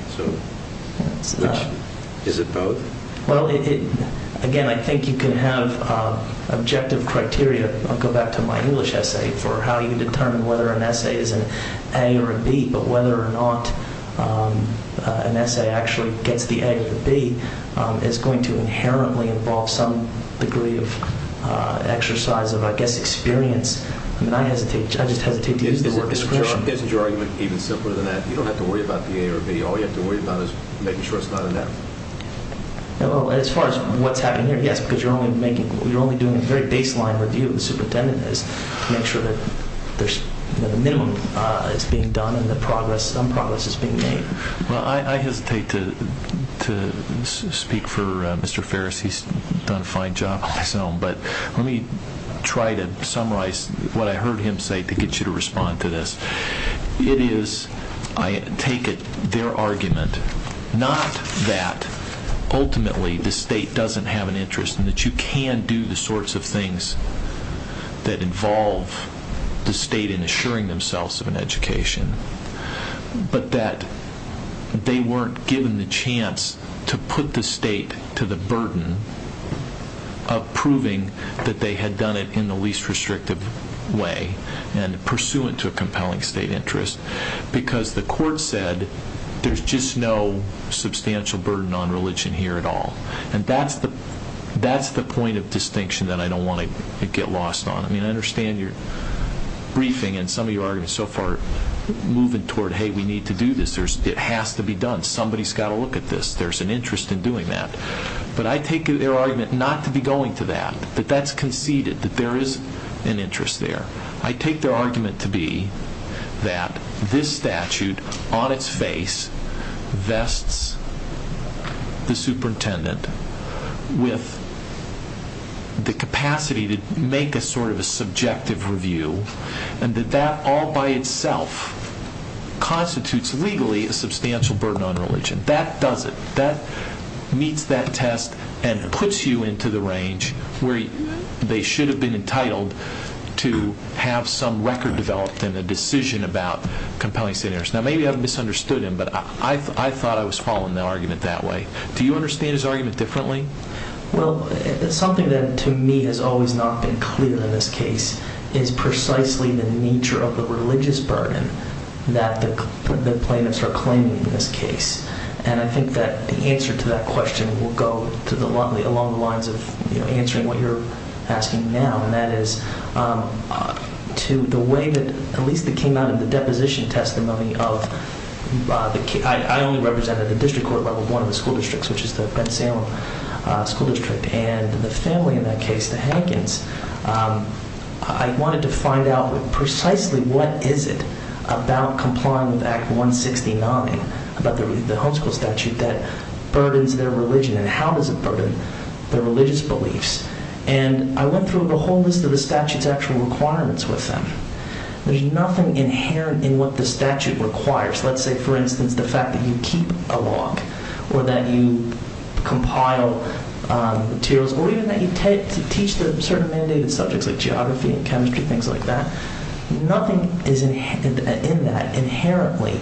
So is it both? Well, again, I think you can have objective criteria. I'll go back to my English essay for how you determine whether an essay is an A or a B, but whether or not an essay actually gets the A or the B is going to inherently involve some degree of exercise of, I guess, experience, and I hesitate to use the word discretion. This is your argument. It's even simpler than that. You don't have to worry about the A or the B. All you have to worry about is making sure it's not an F. As far as what's happening here, yes, because you're only doing a very baseline review, so the tenet is to make sure that there's a minimum that's being done and that some progress is being made. I hesitate to speak for Mr. Ferris. He's done a fine job, but let me try to summarize what I heard him say to get you to respond to this. It is, I take it, their argument, not that ultimately the state doesn't have an interest and that you can do the sorts of things that involve the state in assuring themselves of an education, but that they weren't given the chance to put the state to the burden of proving that they had done it in the least restrictive way and pursuant to a compelling state interest because the court said there's just no substantial burden on religion here at all. That's the point of distinction that I don't want to get lost on. I understand your briefing and some of your arguments so far moving toward, hey, we need to do this. It has to be done. Somebody's got to look at this. There's an interest in doing that. But I take their argument not to be going to that, but that's conceded that there is an interest there. I take their argument to be that this statute on its face vests the superintendent with the capacity to make a sort of subjective review and that that all by itself constitutes legally a substantial burden on religion. That does it. That meets that test and puts you into the range where they should have been entitled to have some record developed in the decision about compelling state interest. Now, maybe I've misunderstood him, but I thought I was following the argument that way. Do you understand his argument differently? Well, something that to me has always not been clear in this case is precisely the nature of the religious burden that the plaintiffs are claiming in this case. And I think that the answer to that question will go along the lines of answering what you're asking now, and that is to the way that at least it came out in the deposition testimony of the case. I only represented the district court, but one of the school districts, which is the Fred Samuel School District, and the family in that case, the Hankins. I wanted to find out precisely what is it about complying with Act 169, about the homeschool statute, that burdens their religion, and how does it burden their religious beliefs? And I went through the whole list of the statute's actual requirements with them. There's nothing inherent in what the statute requires. Let's say, for instance, the fact that you keep a log, or that you compile materials, or even that you teach certain mandated subjects like geography and chemistry, things like that. Nothing in that inherently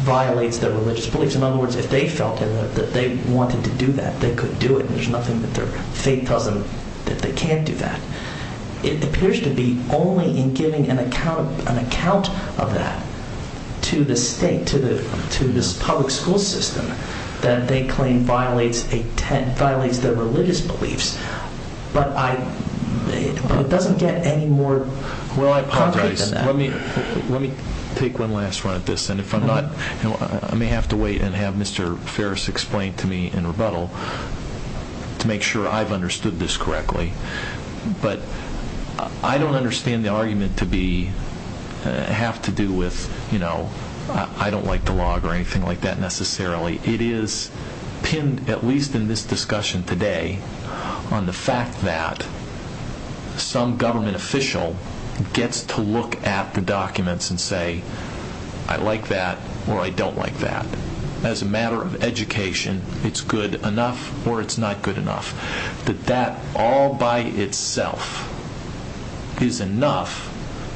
violates their religious beliefs. In other words, if they felt that they wanted to do that, they could do it. There's nothing that their faith tells them that they can't do that. It appears to be only in giving an account of that to the state, to this public school system, that they claim violates their religious beliefs. But it doesn't get any more concrete than that. Let me take one last run at this. I may have to wait and have Mr. Ferris explain to me in rebuttal to make sure I've understood this correctly. But I don't understand the argument to have to do with, you know, I don't like to log or anything like that necessarily. It is, at least in this discussion today, on the fact that some government official gets to look at the documents and say, I like that or I don't like that. As a matter of education, it's good enough or it's not good enough. That that all by itself is enough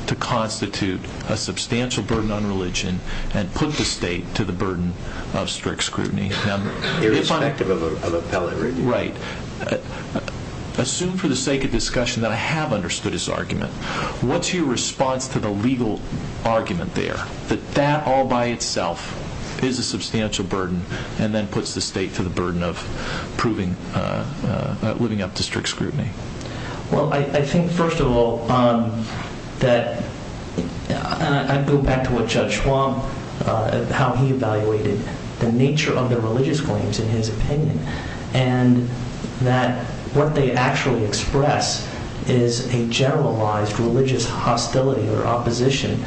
to constitute a substantial burden on religion and put the state to the burden of strict scrutiny. Irrespective of a felony. Right. What's your response to the legal argument there that that all by itself is a substantial burden and then puts the state to the burden of living up to strict scrutiny? Well, I think, first of all, that I go back to what Judge Schwab, how he evaluated the nature of the religious claims in his opinion and that what they actually express is a generalized religious hostility or opposition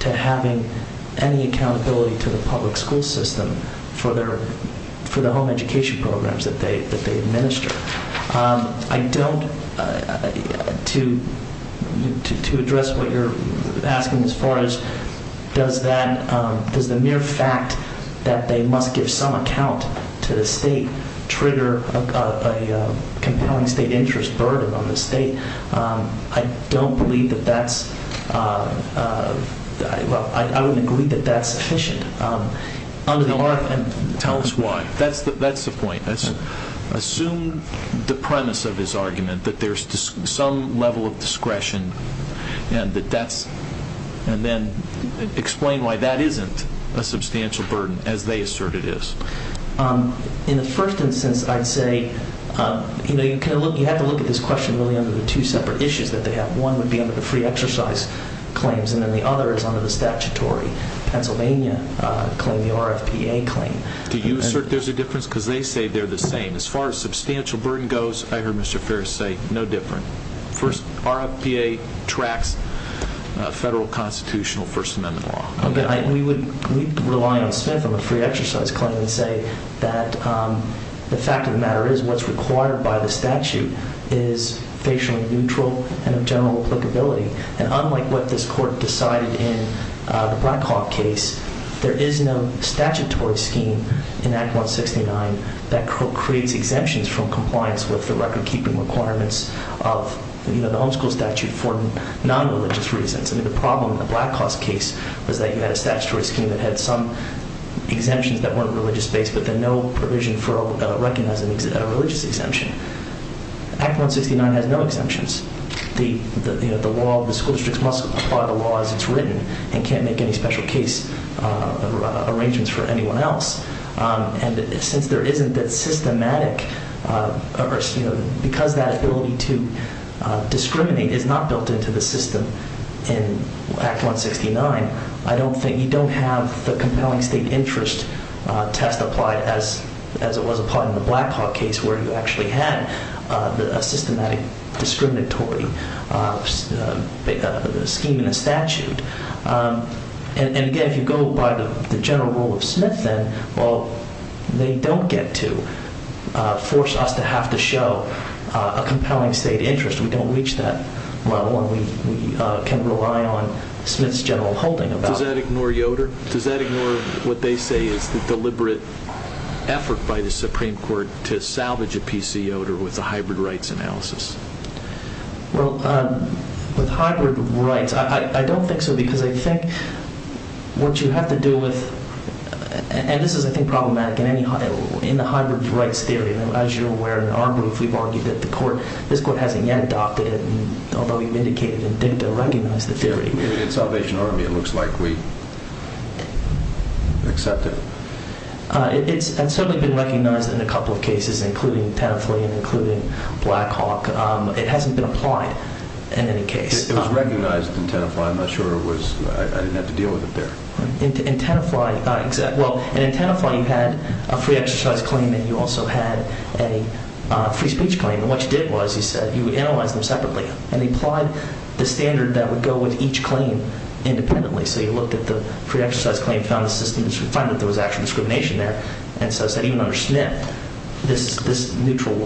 to having any accountability to the public school system for the home education programs that they administer. I don't, to address what you're asking as far as does the mere fact that they must give some account to the state trigger a state interest burden on the state. I don't believe that that's, well, I don't agree that that's sufficient. Tell us why. That's the point. Assume the premise of his argument that there's some level of discretion and then explain why that isn't a substantial burden as they assert it is. In the first instance, I'd say, you know, you have to look at this question really under the two separate issues that they have. One would be under the free exercise claims and then the other is under the statutory Pennsylvania claim, the RFPA claim. Do you assert there's a difference because they say they're the same? As far as substantial burden goes, I heard Mr. Ferris say no difference. First, RFPA tracks a federal constitutional person under law. We would rely on the free exercise claim and say that the fact of the matter is what's required by the statute is facial neutral and of general applicability. And unlike what this court decided in the Blackhawk case, there is no statutory scheme in Act 169 that creates exemptions from compliance with the record-keeping requirements of the homeschool statute for non-religious reasons. The problem in the Blackhawk case was that you had a statutory scheme that had some exemptions that weren't religious-based but then no provision for recognizing that it had a religious exemption. Act 169 has no exemptions. The school district must apply the law as it's written and can't make any special case arrangements for anyone else. And since there isn't that systematic, because that ability to discriminate is not built into the system in Act 169, I don't think you don't have the compelling state interest test applied as it was applied in the Blackhawk case where you actually had a systematic discriminatory scheme in the statute. And again, if you go by the general rule of Smith, then they don't get to force us to have to show a compelling state interest. We don't reach that level and we can rely on Smith's general holding about it. Does that ignore Yoder? Does that ignore what they say is the deliberate effort by the Supreme Court to salvage a piece of Yoder with the hybrid rights analysis? Well, with hybrid rights, I don't think so, because I think what you have to do with, and this is, I think, problematic in the hybrid rights theory. As you're aware, in our group, we've argued that the court, this court hasn't yet adopted it, although we've indicated it didn't recognize the theory. In Salvation Army, it looks like we accept it. And so it's been recognized in a couple of cases, including Tenafly and including Blackhawk. It hasn't been applied in any case. It was recognized in Tenafly. I'm not sure it was. I didn't have to deal with it there. In Tenafly, you had a free exercise claim and you also had a free speech claim. And what you did was you said you would analyze them separately and you applied the standard that would go with each claim independently. So you looked at the free exercise claim, found assistance, and found that there was actual discrimination there. And so you said, you understand, this neutral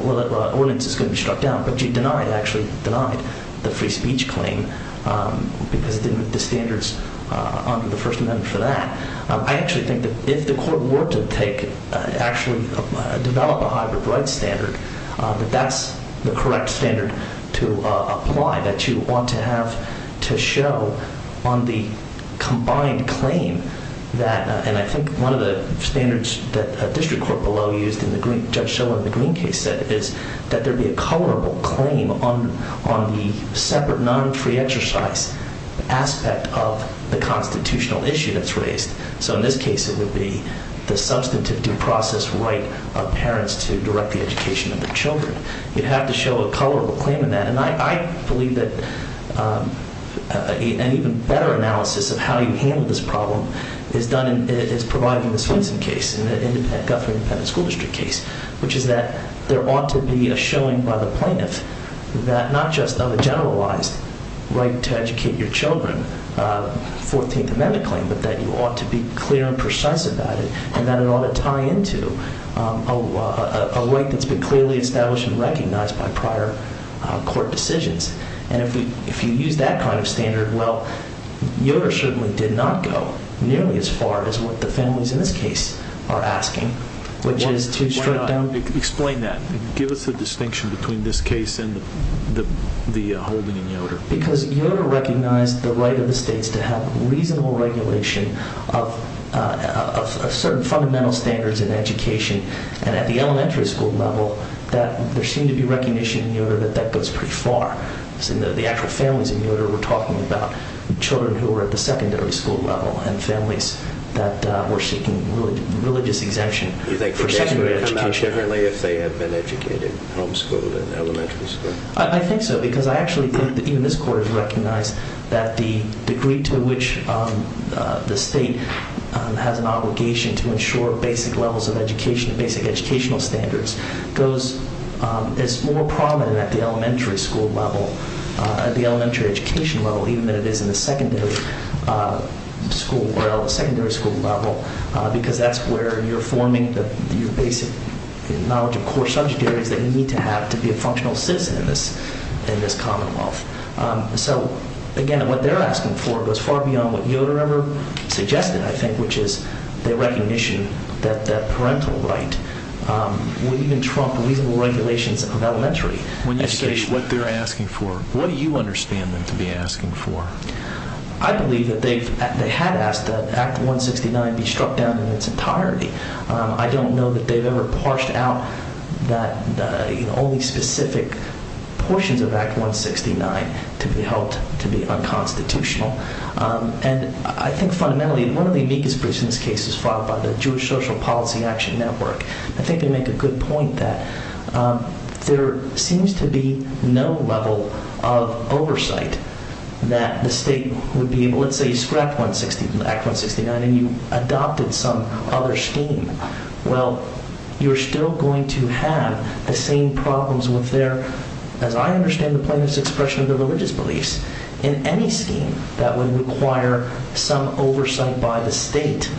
ordinance is going to be shut down. But you denied, actually denied the free speech claim because it didn't meet the standards under the First Amendment for that. I actually think that if the court were to take, actually develop a hybrid rights standard, that that's the correct standard to apply, that you want to have to show on the combined claim that, and I think one of the standards that the district court below used and Judge Schiller in the Green case said, is that there be a colorable claim on the separate, non-free exercise aspect of the constitutional issue that's raised. So in this case, it would be the substantive due process right of parents to direct the education of their children. You'd have to show a colorable claim in that. And I believe that an even better analysis of how you handle this problem is provided in the Swenson case, in the Governing County School District case, which is that there ought to be a showing by the plaintiff that not just of a generalized right to educate your children, 14th Amendment claim, but that you ought to be clear and precise about it, and that it ought to tie into a right that's been clearly established and recognized by prior court decisions. And if you use that kind of standard, well, it certainly did not go nearly as far as what the families in this case are asking. Why not explain that? Give us a distinction between this case and the Hogan and Yoder. Because Yoder recognized the right of the states to have reasonable regulation of certain fundamental standards in education, and at the elementary school level, there seemed to be recognition in Yoder that that goes pretty far. The actual families in Yoder were talking about children who were at the secondary school level and families that were seeking religious exemption. Do you think they're separated enough generally if they have been educated from school and elementary school? I think so, because I actually think in this court it's recognized that the degree to which the state has an obligation to ensure basic levels of education, basic educational standards, is more prominent at the elementary school level, at the elementary education level, even though it is in the secondary school level, because that's where you're forming your basic knowledge and core subjectivities that you need to have to be a functional citizen in this commonwealth. So, again, what they're asking for goes far beyond what Yoder ever suggested, I think, which is the recognition that parental right would even trump reasonable regulations of elementary education. What they're asking for, what do you understand them to be asking for? I believe that they had asked that Act 169 be struck down in its entirety. I don't know that they've ever parched out that only specific portions of Act 169 could be held to be unconstitutional. And I think, fundamentally, one of the amicus briefs in this case is filed by the Jewish Social Policy Action Network. I think they make a good point that there seems to be no level of oversight that the state would be able to say, you struck Act 169 and you adopted some other scheme. Well, you're still going to have the same problems with their, as I understand the point of this expression, the religious beliefs, in any scheme that would require some oversight by the state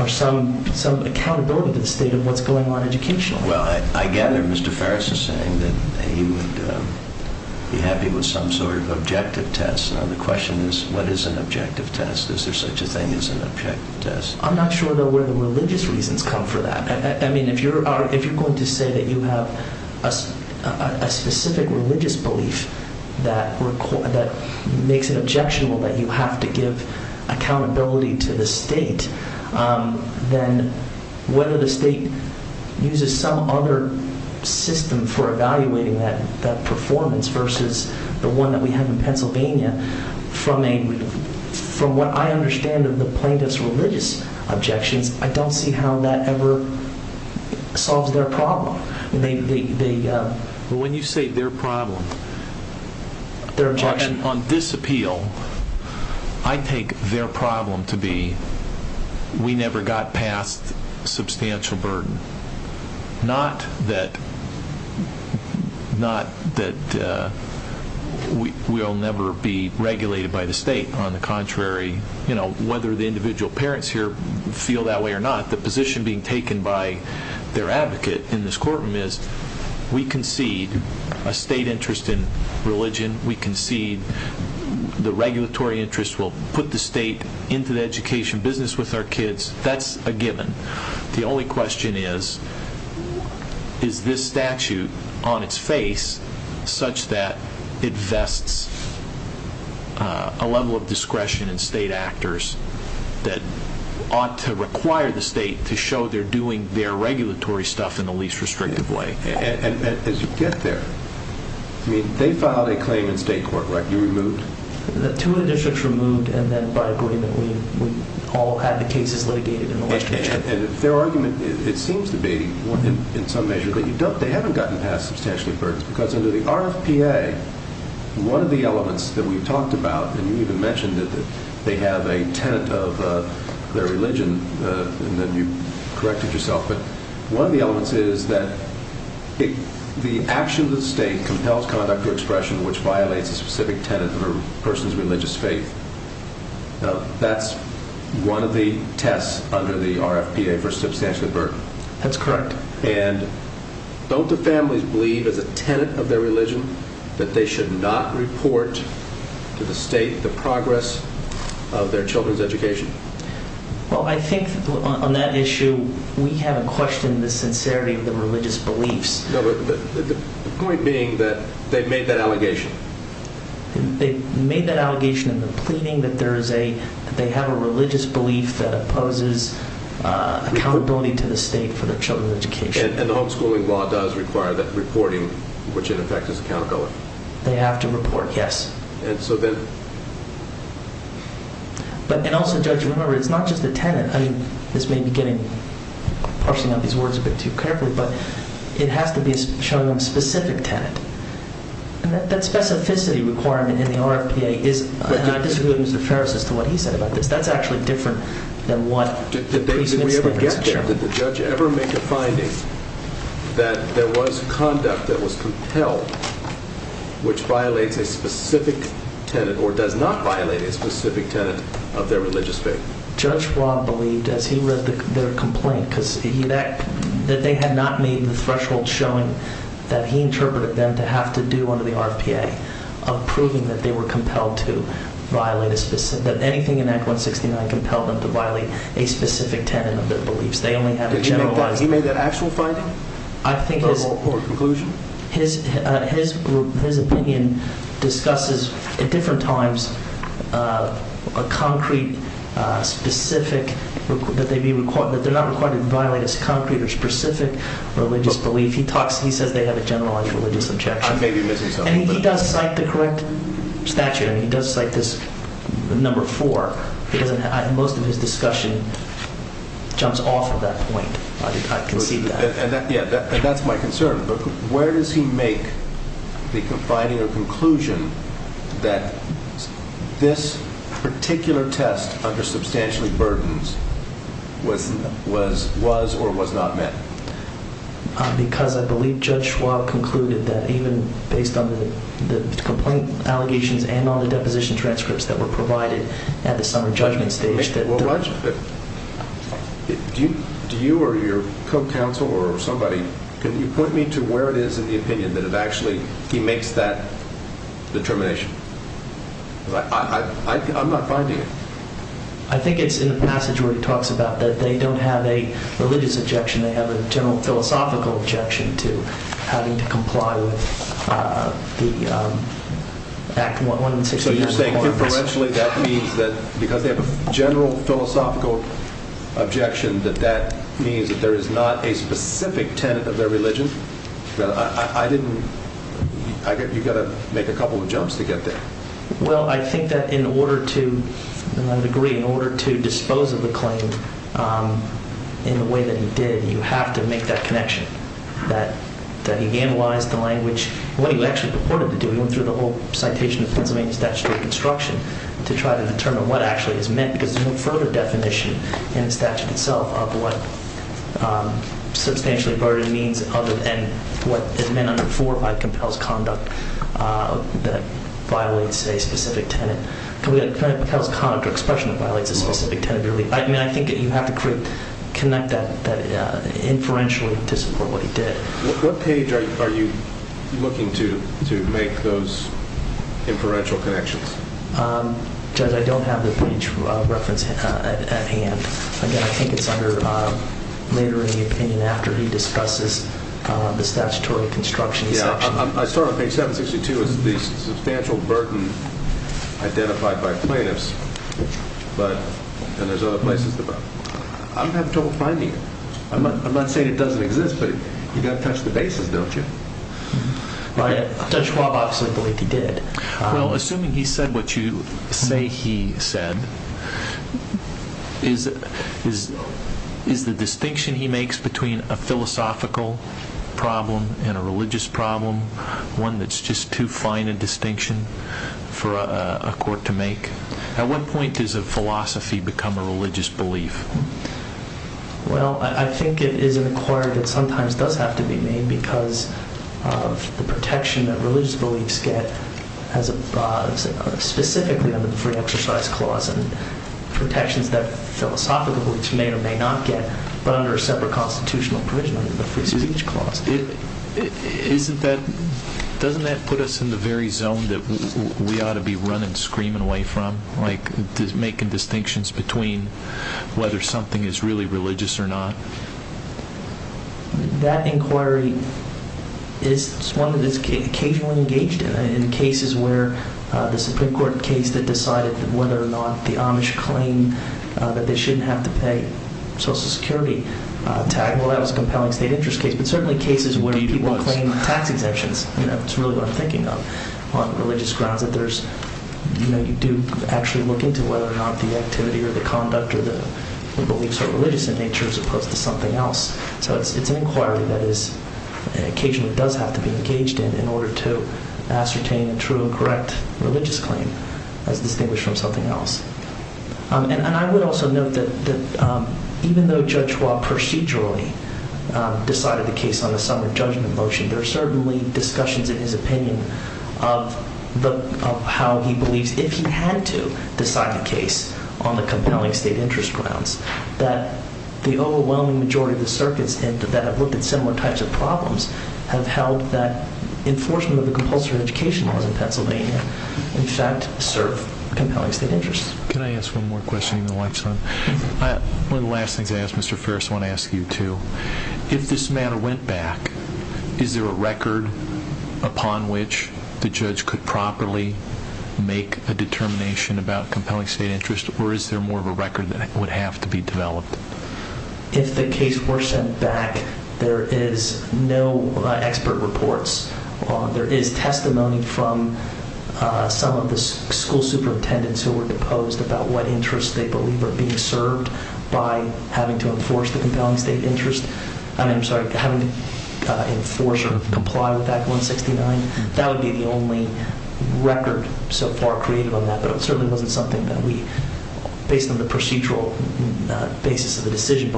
or some accountability to the state of what's going on educationally. Well, I gather Mr. Ferris is saying that you're happy with some sort of objective test. The question is, what is an objective test? Is there such a thing as an objective test? I'm not sure where the religious reasons come from that. I mean, if you're going to say that you have a specific religious belief that makes it objectionable that you have to give accountability to the state, then whether the state uses some other system for evaluating that performance versus the one that we have in Pennsylvania, from what I understand of the plaintiff's religious objections, I don't see how that ever solves their problem. When you say their problem, on this appeal, I take their problem to be we never got past substantial burden. Not that we'll never be regulated by the state. On the contrary, whether the individual parents here feel that way or not, the position being taken by their advocate in this courtroom is we concede a state interest in religion. We concede the regulatory interest will put the state into the education business with our kids. That's a given. The only question is, is this statute on its face such that it vests a level of discretion in state actors that ought to require the state to show they're doing their regulatory stuff in the least restrictive way? As you get there, they filed a claim in state court, right? You removed? Two of the districts removed, and then, by agreement, we all had the cases vacated. Their argument, it seems to be, in some measure, that they haven't gotten past substantial burdens because under the RFPA, one of the elements that we've talked about, and you even mentioned that they have a tenet of their religion, and then you corrected yourself, but one of the elements is that the actions of the state compels conduct or expression which violates a specific tenet of a person's religious faith. That's one of the tests under the RFPA for substantial burden. That's correct. Don't the families believe as a tenet of their religion that they should not report to the state the progress of their children's education? Well, I think on that issue, we have a question of the sincerity of the religious beliefs. The point being that they've made that allegation. They've made that allegation in the claiming that they have a religious belief that opposes accountability to the state for their children's education. And the homeschooling law does require that reporting, which, in effect, is a counterclaim. They have to report, yes. And so then? But also, Judge, remember, it's not just the tenet. I mean, this may be getting a portion of these words a bit too carefully, but it has to be shown specific tenet. And that specificity requirement in the RFPA is, and I disagree with Mr. Ferris as to what he said about this, but that's actually different than what the president has shown. Did we ever get that? Did the judge ever make a finding that there was conduct that was compelled, which violates a specific tenet or does not violate a specific tenet of their religious faith? Judge Fraud believed, as he read their complaint, that they had not made the threshold showing that he interpreted them to have to do under the RFPA of proving that they were compelled to violate a specific tenet. That anything in Act 169 compelled them to violate a specific tenet of their beliefs. They only had to generalize. Did he make that actual finding? I think his opinion discusses at different times a concrete, specific, but they're not required to violate as concrete or specific religious belief. He said they have a generalized religious objection. He does cite the correct statute. He does cite this number four. Most of his discussion jumps off of that point. That's my concern. Where does he make the finding or conclusion that this particular test, under substantially burdens, was or was not met? Because I believe Judge Fraud concluded that even based on the complaint allegations and on the deposition transcripts that were provided at the summer judgment stage. Do you or your co-counsel or somebody, can you point me to where it is in the opinion that actually he makes that determination? I'm not finding it. I think it's in the passage where he talks about that they don't have a religious objection. They have a general philosophical objection to having to comply with the Act 169. So you're saying influentially that means that because they have a general philosophical objection that that means that there is not a specific tenet of their religion? You've got to make a couple of jumps to get there. Well, I think that in order to dispose of the claim in the way that he did, you have to make that connection. That he analyzed the language, what he actually purported to do, through the whole citation of the Pennsylvania Statute of Reconstruction, to try to determine what actually is meant. Because there's no further definition in the statute itself of what substantially burdened means other than what is meant for by compelled conduct that violates a specific tenet. Compelled conduct or expression that violates a specific tenet. I think that you have to connect that inferentially to support what he did. What page are you looking to to make those inferential connections? Judge, I don't have the page at hand. Again, I think it's under later in the opinion after he discusses the statutory construction. Yeah, I saw it on page 762. It was the substantial burden identified by plaintiffs. But, and there's other places. I'm having trouble finding it. I'm not saying it doesn't exist, but you've got to touch the bases, don't you? Well, Judge Wallach said, I believe he did. Well, assuming he said what you think he said, is the distinction he makes between a philosophical problem and a religious problem one that's just too fine a distinction for a court to make? At what point does a philosophy become a religious belief? Well, I think it is a part that sometimes does have to be made because of the protection that religious beliefs get specifically under the free exercise clause and protections that philosophical beliefs may or may not get but under a separate constitutional provision under the free speech clause. Isn't that, doesn't that put us in the very zone that we ought to be running screaming away from, like making distinctions between whether something is really religious or not? That inquiry is one that is occasionally engaged in. I mean, in cases where the Supreme Court case that decided whether or not the Amish claim that they shouldn't have to pay Social Security, tag-wiles, compelling state interest case, but certainly cases where you do want to claim tax exemptions, you know, it's really what I'm thinking of, on a religious ground, but there's, you know, you do actually look into whether or not the activity or the conduct or the nature of the beliefs are religious in nature as opposed to something else. So it's an inquiry that occasionally does have to be engaged in in order to ascertain a true and correct religious claim as distinguished from something else. And I would also note that even though Judge Roth procedurally decided the case on a sovereign judgment motion, there are certainly discussions in his opinion of how he believes, if he had to decide on a case on the compelling state interest grounds, that the overwhelming majority of the circuits that have looked at similar types of problems have held that enforcement of the compulsory education laws in Pennsylvania in fact serve compelling state interest. Can I ask one more question? I have one last thing to ask Mr. Farris. I want to ask you, too. If this matter went back, is there a record upon which the judge could properly make a determination about compelling state interest, or is there more of a record that would have to be developed? If the case were sent back, there is no expert reports. There is testimony from some of the school superintendents who were deposed about what interests they believe are being served by having to enforce the compelling state interest. Having to enforce or comply with Act 169, that would be the only record so far created on that, but it certainly wasn't something that we, based on the procedural basis of the decision,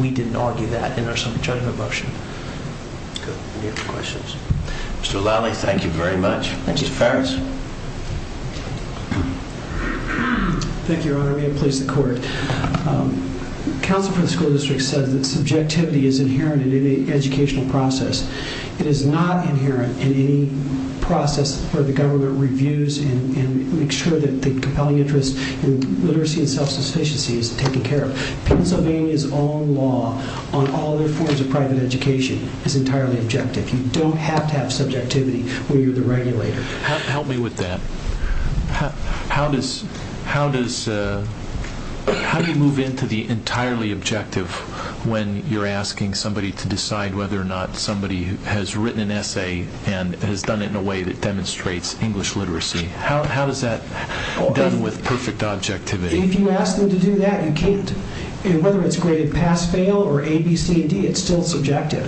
we didn't argue that in our sovereign judgment motion. Mr. Lally, thank you very much. Mr. Farris? Thank you, Your Honor. May it please the Court. Counsel from the school district said that subjectivity is inherent in any educational process. It is not inherent in any process where the government reviews and makes sure that the compelling interest in literacy and self-sufficiency is taken care of. Pennsylvania's own law on all other forms of private education is entirely objective. You don't have to have subjectivity when you're the regulator. Help me with that. How do you move into the entirely objective when you're asking somebody to decide whether or not somebody has written an essay and has done it in a way that demonstrates English literacy? How is that done with perfect objectivity? If you ask them to do that, whether it's graded pass, fail, or A, B, C, or D, it's still subjective.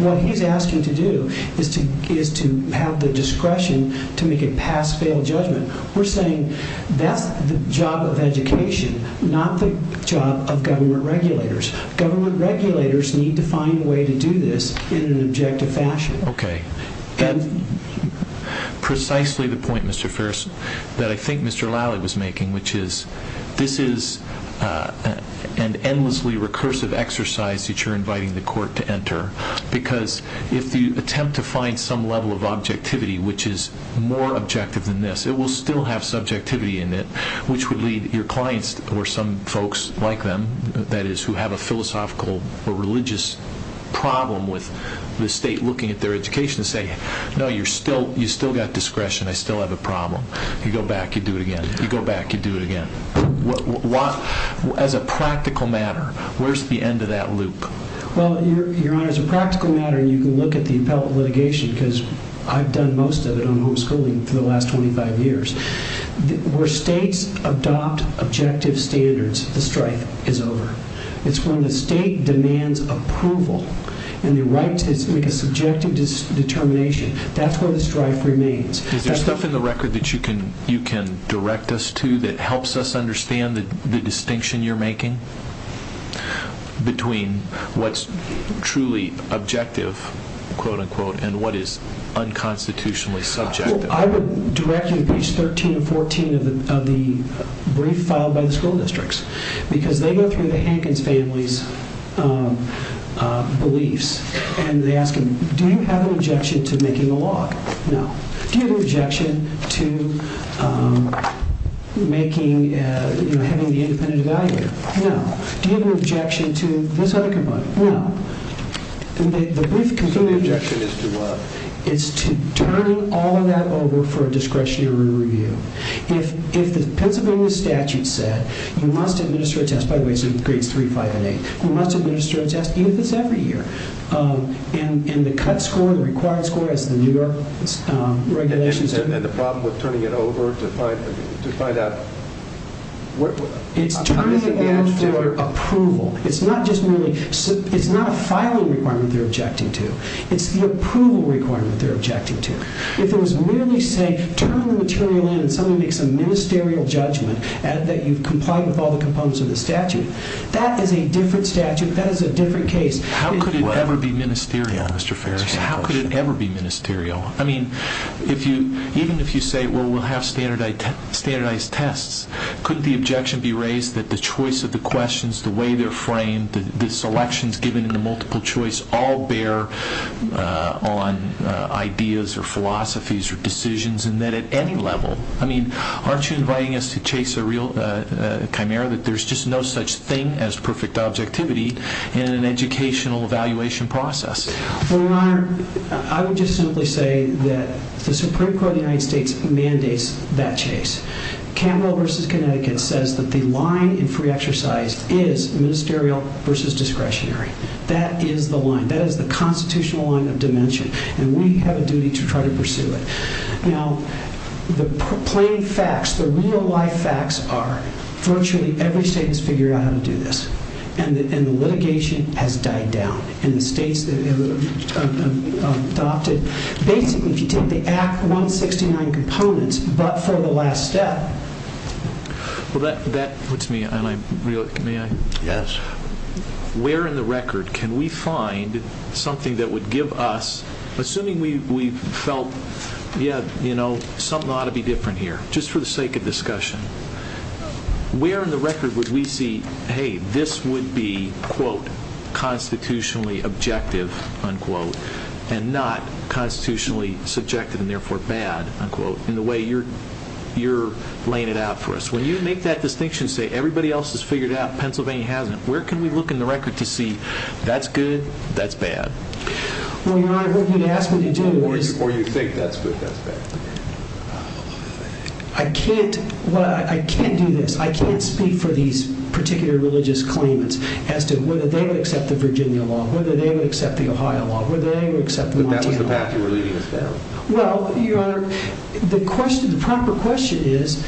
What he's asking to do is to have the discretion to make a pass, fail judgment. We're saying that's the job of education, not the job of government regulators. Government regulators need to find a way to do this in an objective fashion. That's precisely the point, Mr. Farris, that I think Mr. Lally was making, which is this is an endlessly recursive exercise that you're inviting the Court to enter because if you attempt to find some level of objectivity which is more objective than this, it will still have subjectivity in it, which would lead your clients or some folks like them, that is, who have a philosophical or religious problem with the state looking at their education to say, no, you've still got discretion. I still have a problem. You go back, you do it again. You go back, you do it again. As a practical matter, where's the end of that loop? Well, Your Honor, as a practical matter, you can look at the appellate litigation because I've done most of it on homeschooling for the last 25 years. Where states adopt objective standards, the strike is over. It's when the state demands approval and the right to subjective determination, that's where the strike remains. Is there stuff in the record that you can direct us to between what's truly objective, quote-unquote, and what is unconstitutionally subjective? I would direct you to page 13 and 14 of the brief filed by the school districts because they go through the Hankins family's beliefs and they ask them, do you have an objection to making a law? No. Do you have an objection to having the independent evaluator? No. Do you have an objection to this other complaint? No. The brief concluding objection is to what? It's to turn all of that over for discretionary review. If the Pennsylvania statute said, we must administer a test, by the way, it's in grade 3-5-8, we must administer a test in the second year and the cut score, the required score, as the New York regulations... And the problem of turning it over to find out... It's turning it down for approval. It's not a filing requirement they're objecting to. It's the approval requirement they're objecting to. If it was merely saying, turn the material in and someone makes a ministerial judgment that you comply with all the components of the statute, that is a different statute, that is a different case. How could it ever be ministerial, Mr. Farris? How could it ever be ministerial? I mean, even if you say, well, we'll have standardized tests, could the objection be raised that the choice of the questions, the way they're framed, the selections given in the multiple choice all bear on ideas or philosophies or decisions, and that at any level... I mean, aren't you inviting us to chase a real chimera, that there's just no such thing as perfect objectivity in an educational evaluation process? Your Honor, I would just simply say that the Supreme Court of the United States mandates that chase. Campbell v. Connecticut says that the line in free exercise is ministerial versus discretionary. That is the line. That is the constitutional line of dimension, and we have a duty to try to pursue it. Now, the plain facts, the real-life facts are virtually every state has figured out how to do this, and litigation has died down, and the states that have adopted... Basically, if you take the Act 169 components but for the last step... Well, that puts me on a real... May I? Yes. Where in the record can we find something that would give us... Assuming we felt, yeah, you know, something ought to be different here, just for the sake of discussion, where in the record would we see, hey, this would be, quote, constitutionally objective, unquote, and not constitutionally subjective and therefore bad, unquote, in the way you're laying it out for us? When you make that distinction and say, everybody else has figured it out, Pennsylvania hasn't, where can we look in the record to see, that's good, that's bad? Well, Your Honor, I hope you ask what you do. Or you think that's the best bet. I can't... Well, I can't do this. I can't speak for these particular religious claimants as to whether they would accept the Virginia law, whether they would accept the Ohio law, whether they would accept the Latino law. Well, Your Honor, the question, the proper question is,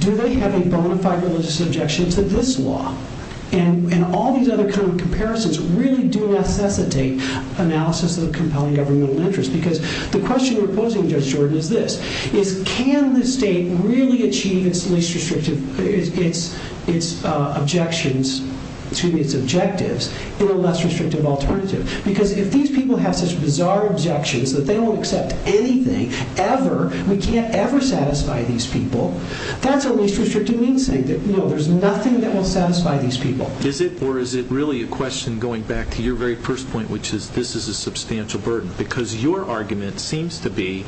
do they have any bona fide religious objections to this law? And all these other kinds of comparisons really do necessitate analysis of the compelling governmental interest, because the question you're posing, Judge Jordan, is this. Can the state really achieve its objectives through a less restrictive alternative? Because if these people have such bizarre objections that they don't accept anything ever, we can't ever satisfy these people, that's a less restrictive means statement. No, there's nothing that will satisfy these people. Is it, or is it really a question, going back to your very first point, which is this is a substantial burden? Because your argument seems to be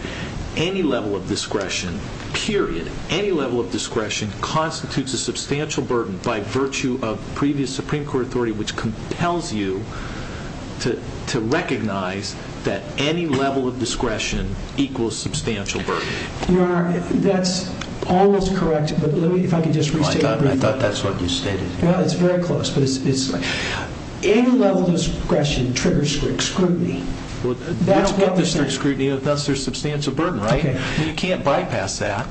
any level of discretion, period, any level of discretion constitutes a substantial burden by virtue of previous Supreme Court authority which compels you to recognize that any level of discretion equals substantial burden. Your Honor, that's almost correct, but let me, if I can just rephrase that. I thought that's what you said. Well, it's very close. Any level of discretion triggers strict scrutiny. Well, they don't trigger strict scrutiny unless there's substantial burden, right? You can't bypass that.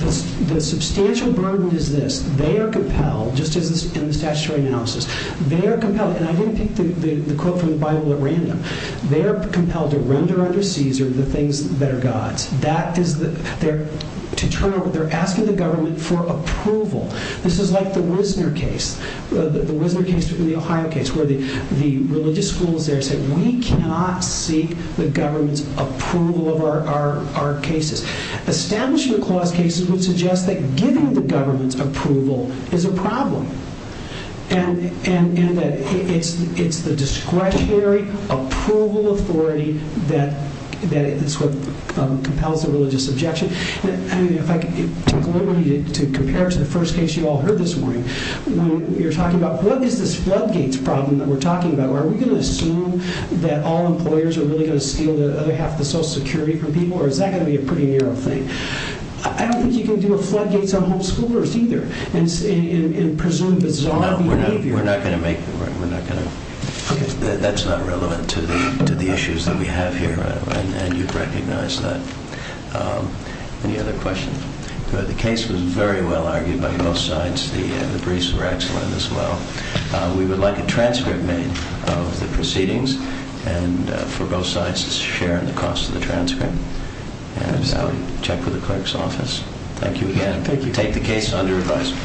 The substantial burden is this. They are compelled, just as in the statutory analysis, they are compelled, and I didn't take the quote from the Bible or read them, they are compelled to render unto Caesar the things that are God's. That is, they're asking the government for approval. This is like the Wisner case, the Wisner case or the Ohio case, where the religious schools there say we cannot seek the government's approval of our cases. Establishment clause cases would suggest that giving the government's approval is a problem. And that it's the discretionary approval authority that compels the religious objection. And if I can deliberately compare it to the first case you all heard this morning, when you're talking about what is this floodgates problem that we're talking about? Are we going to assume that all employers are really going to steal the other half of the Social Security from people, or is that going to be a pretty narrow thing? I don't think you can deal with floodgates on homeschoolers either. Presumably it's allowed. No, we're not going to make the room. That's not relevant to the issues that we have here. And you've already noticed that. Any other questions? The case was very well argued by both sides. The briefs were excellent as well. We would like a transcript made of the proceedings. And for both sides, it's a share in the cost of the transcript. And check with the clerk's office. Thank you again. Take the case under advisement.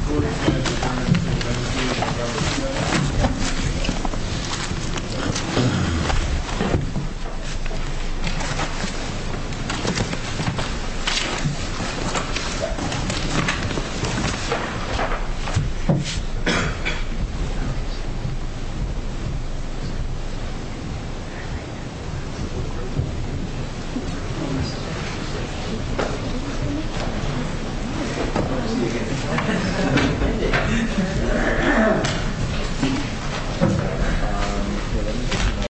Thank you.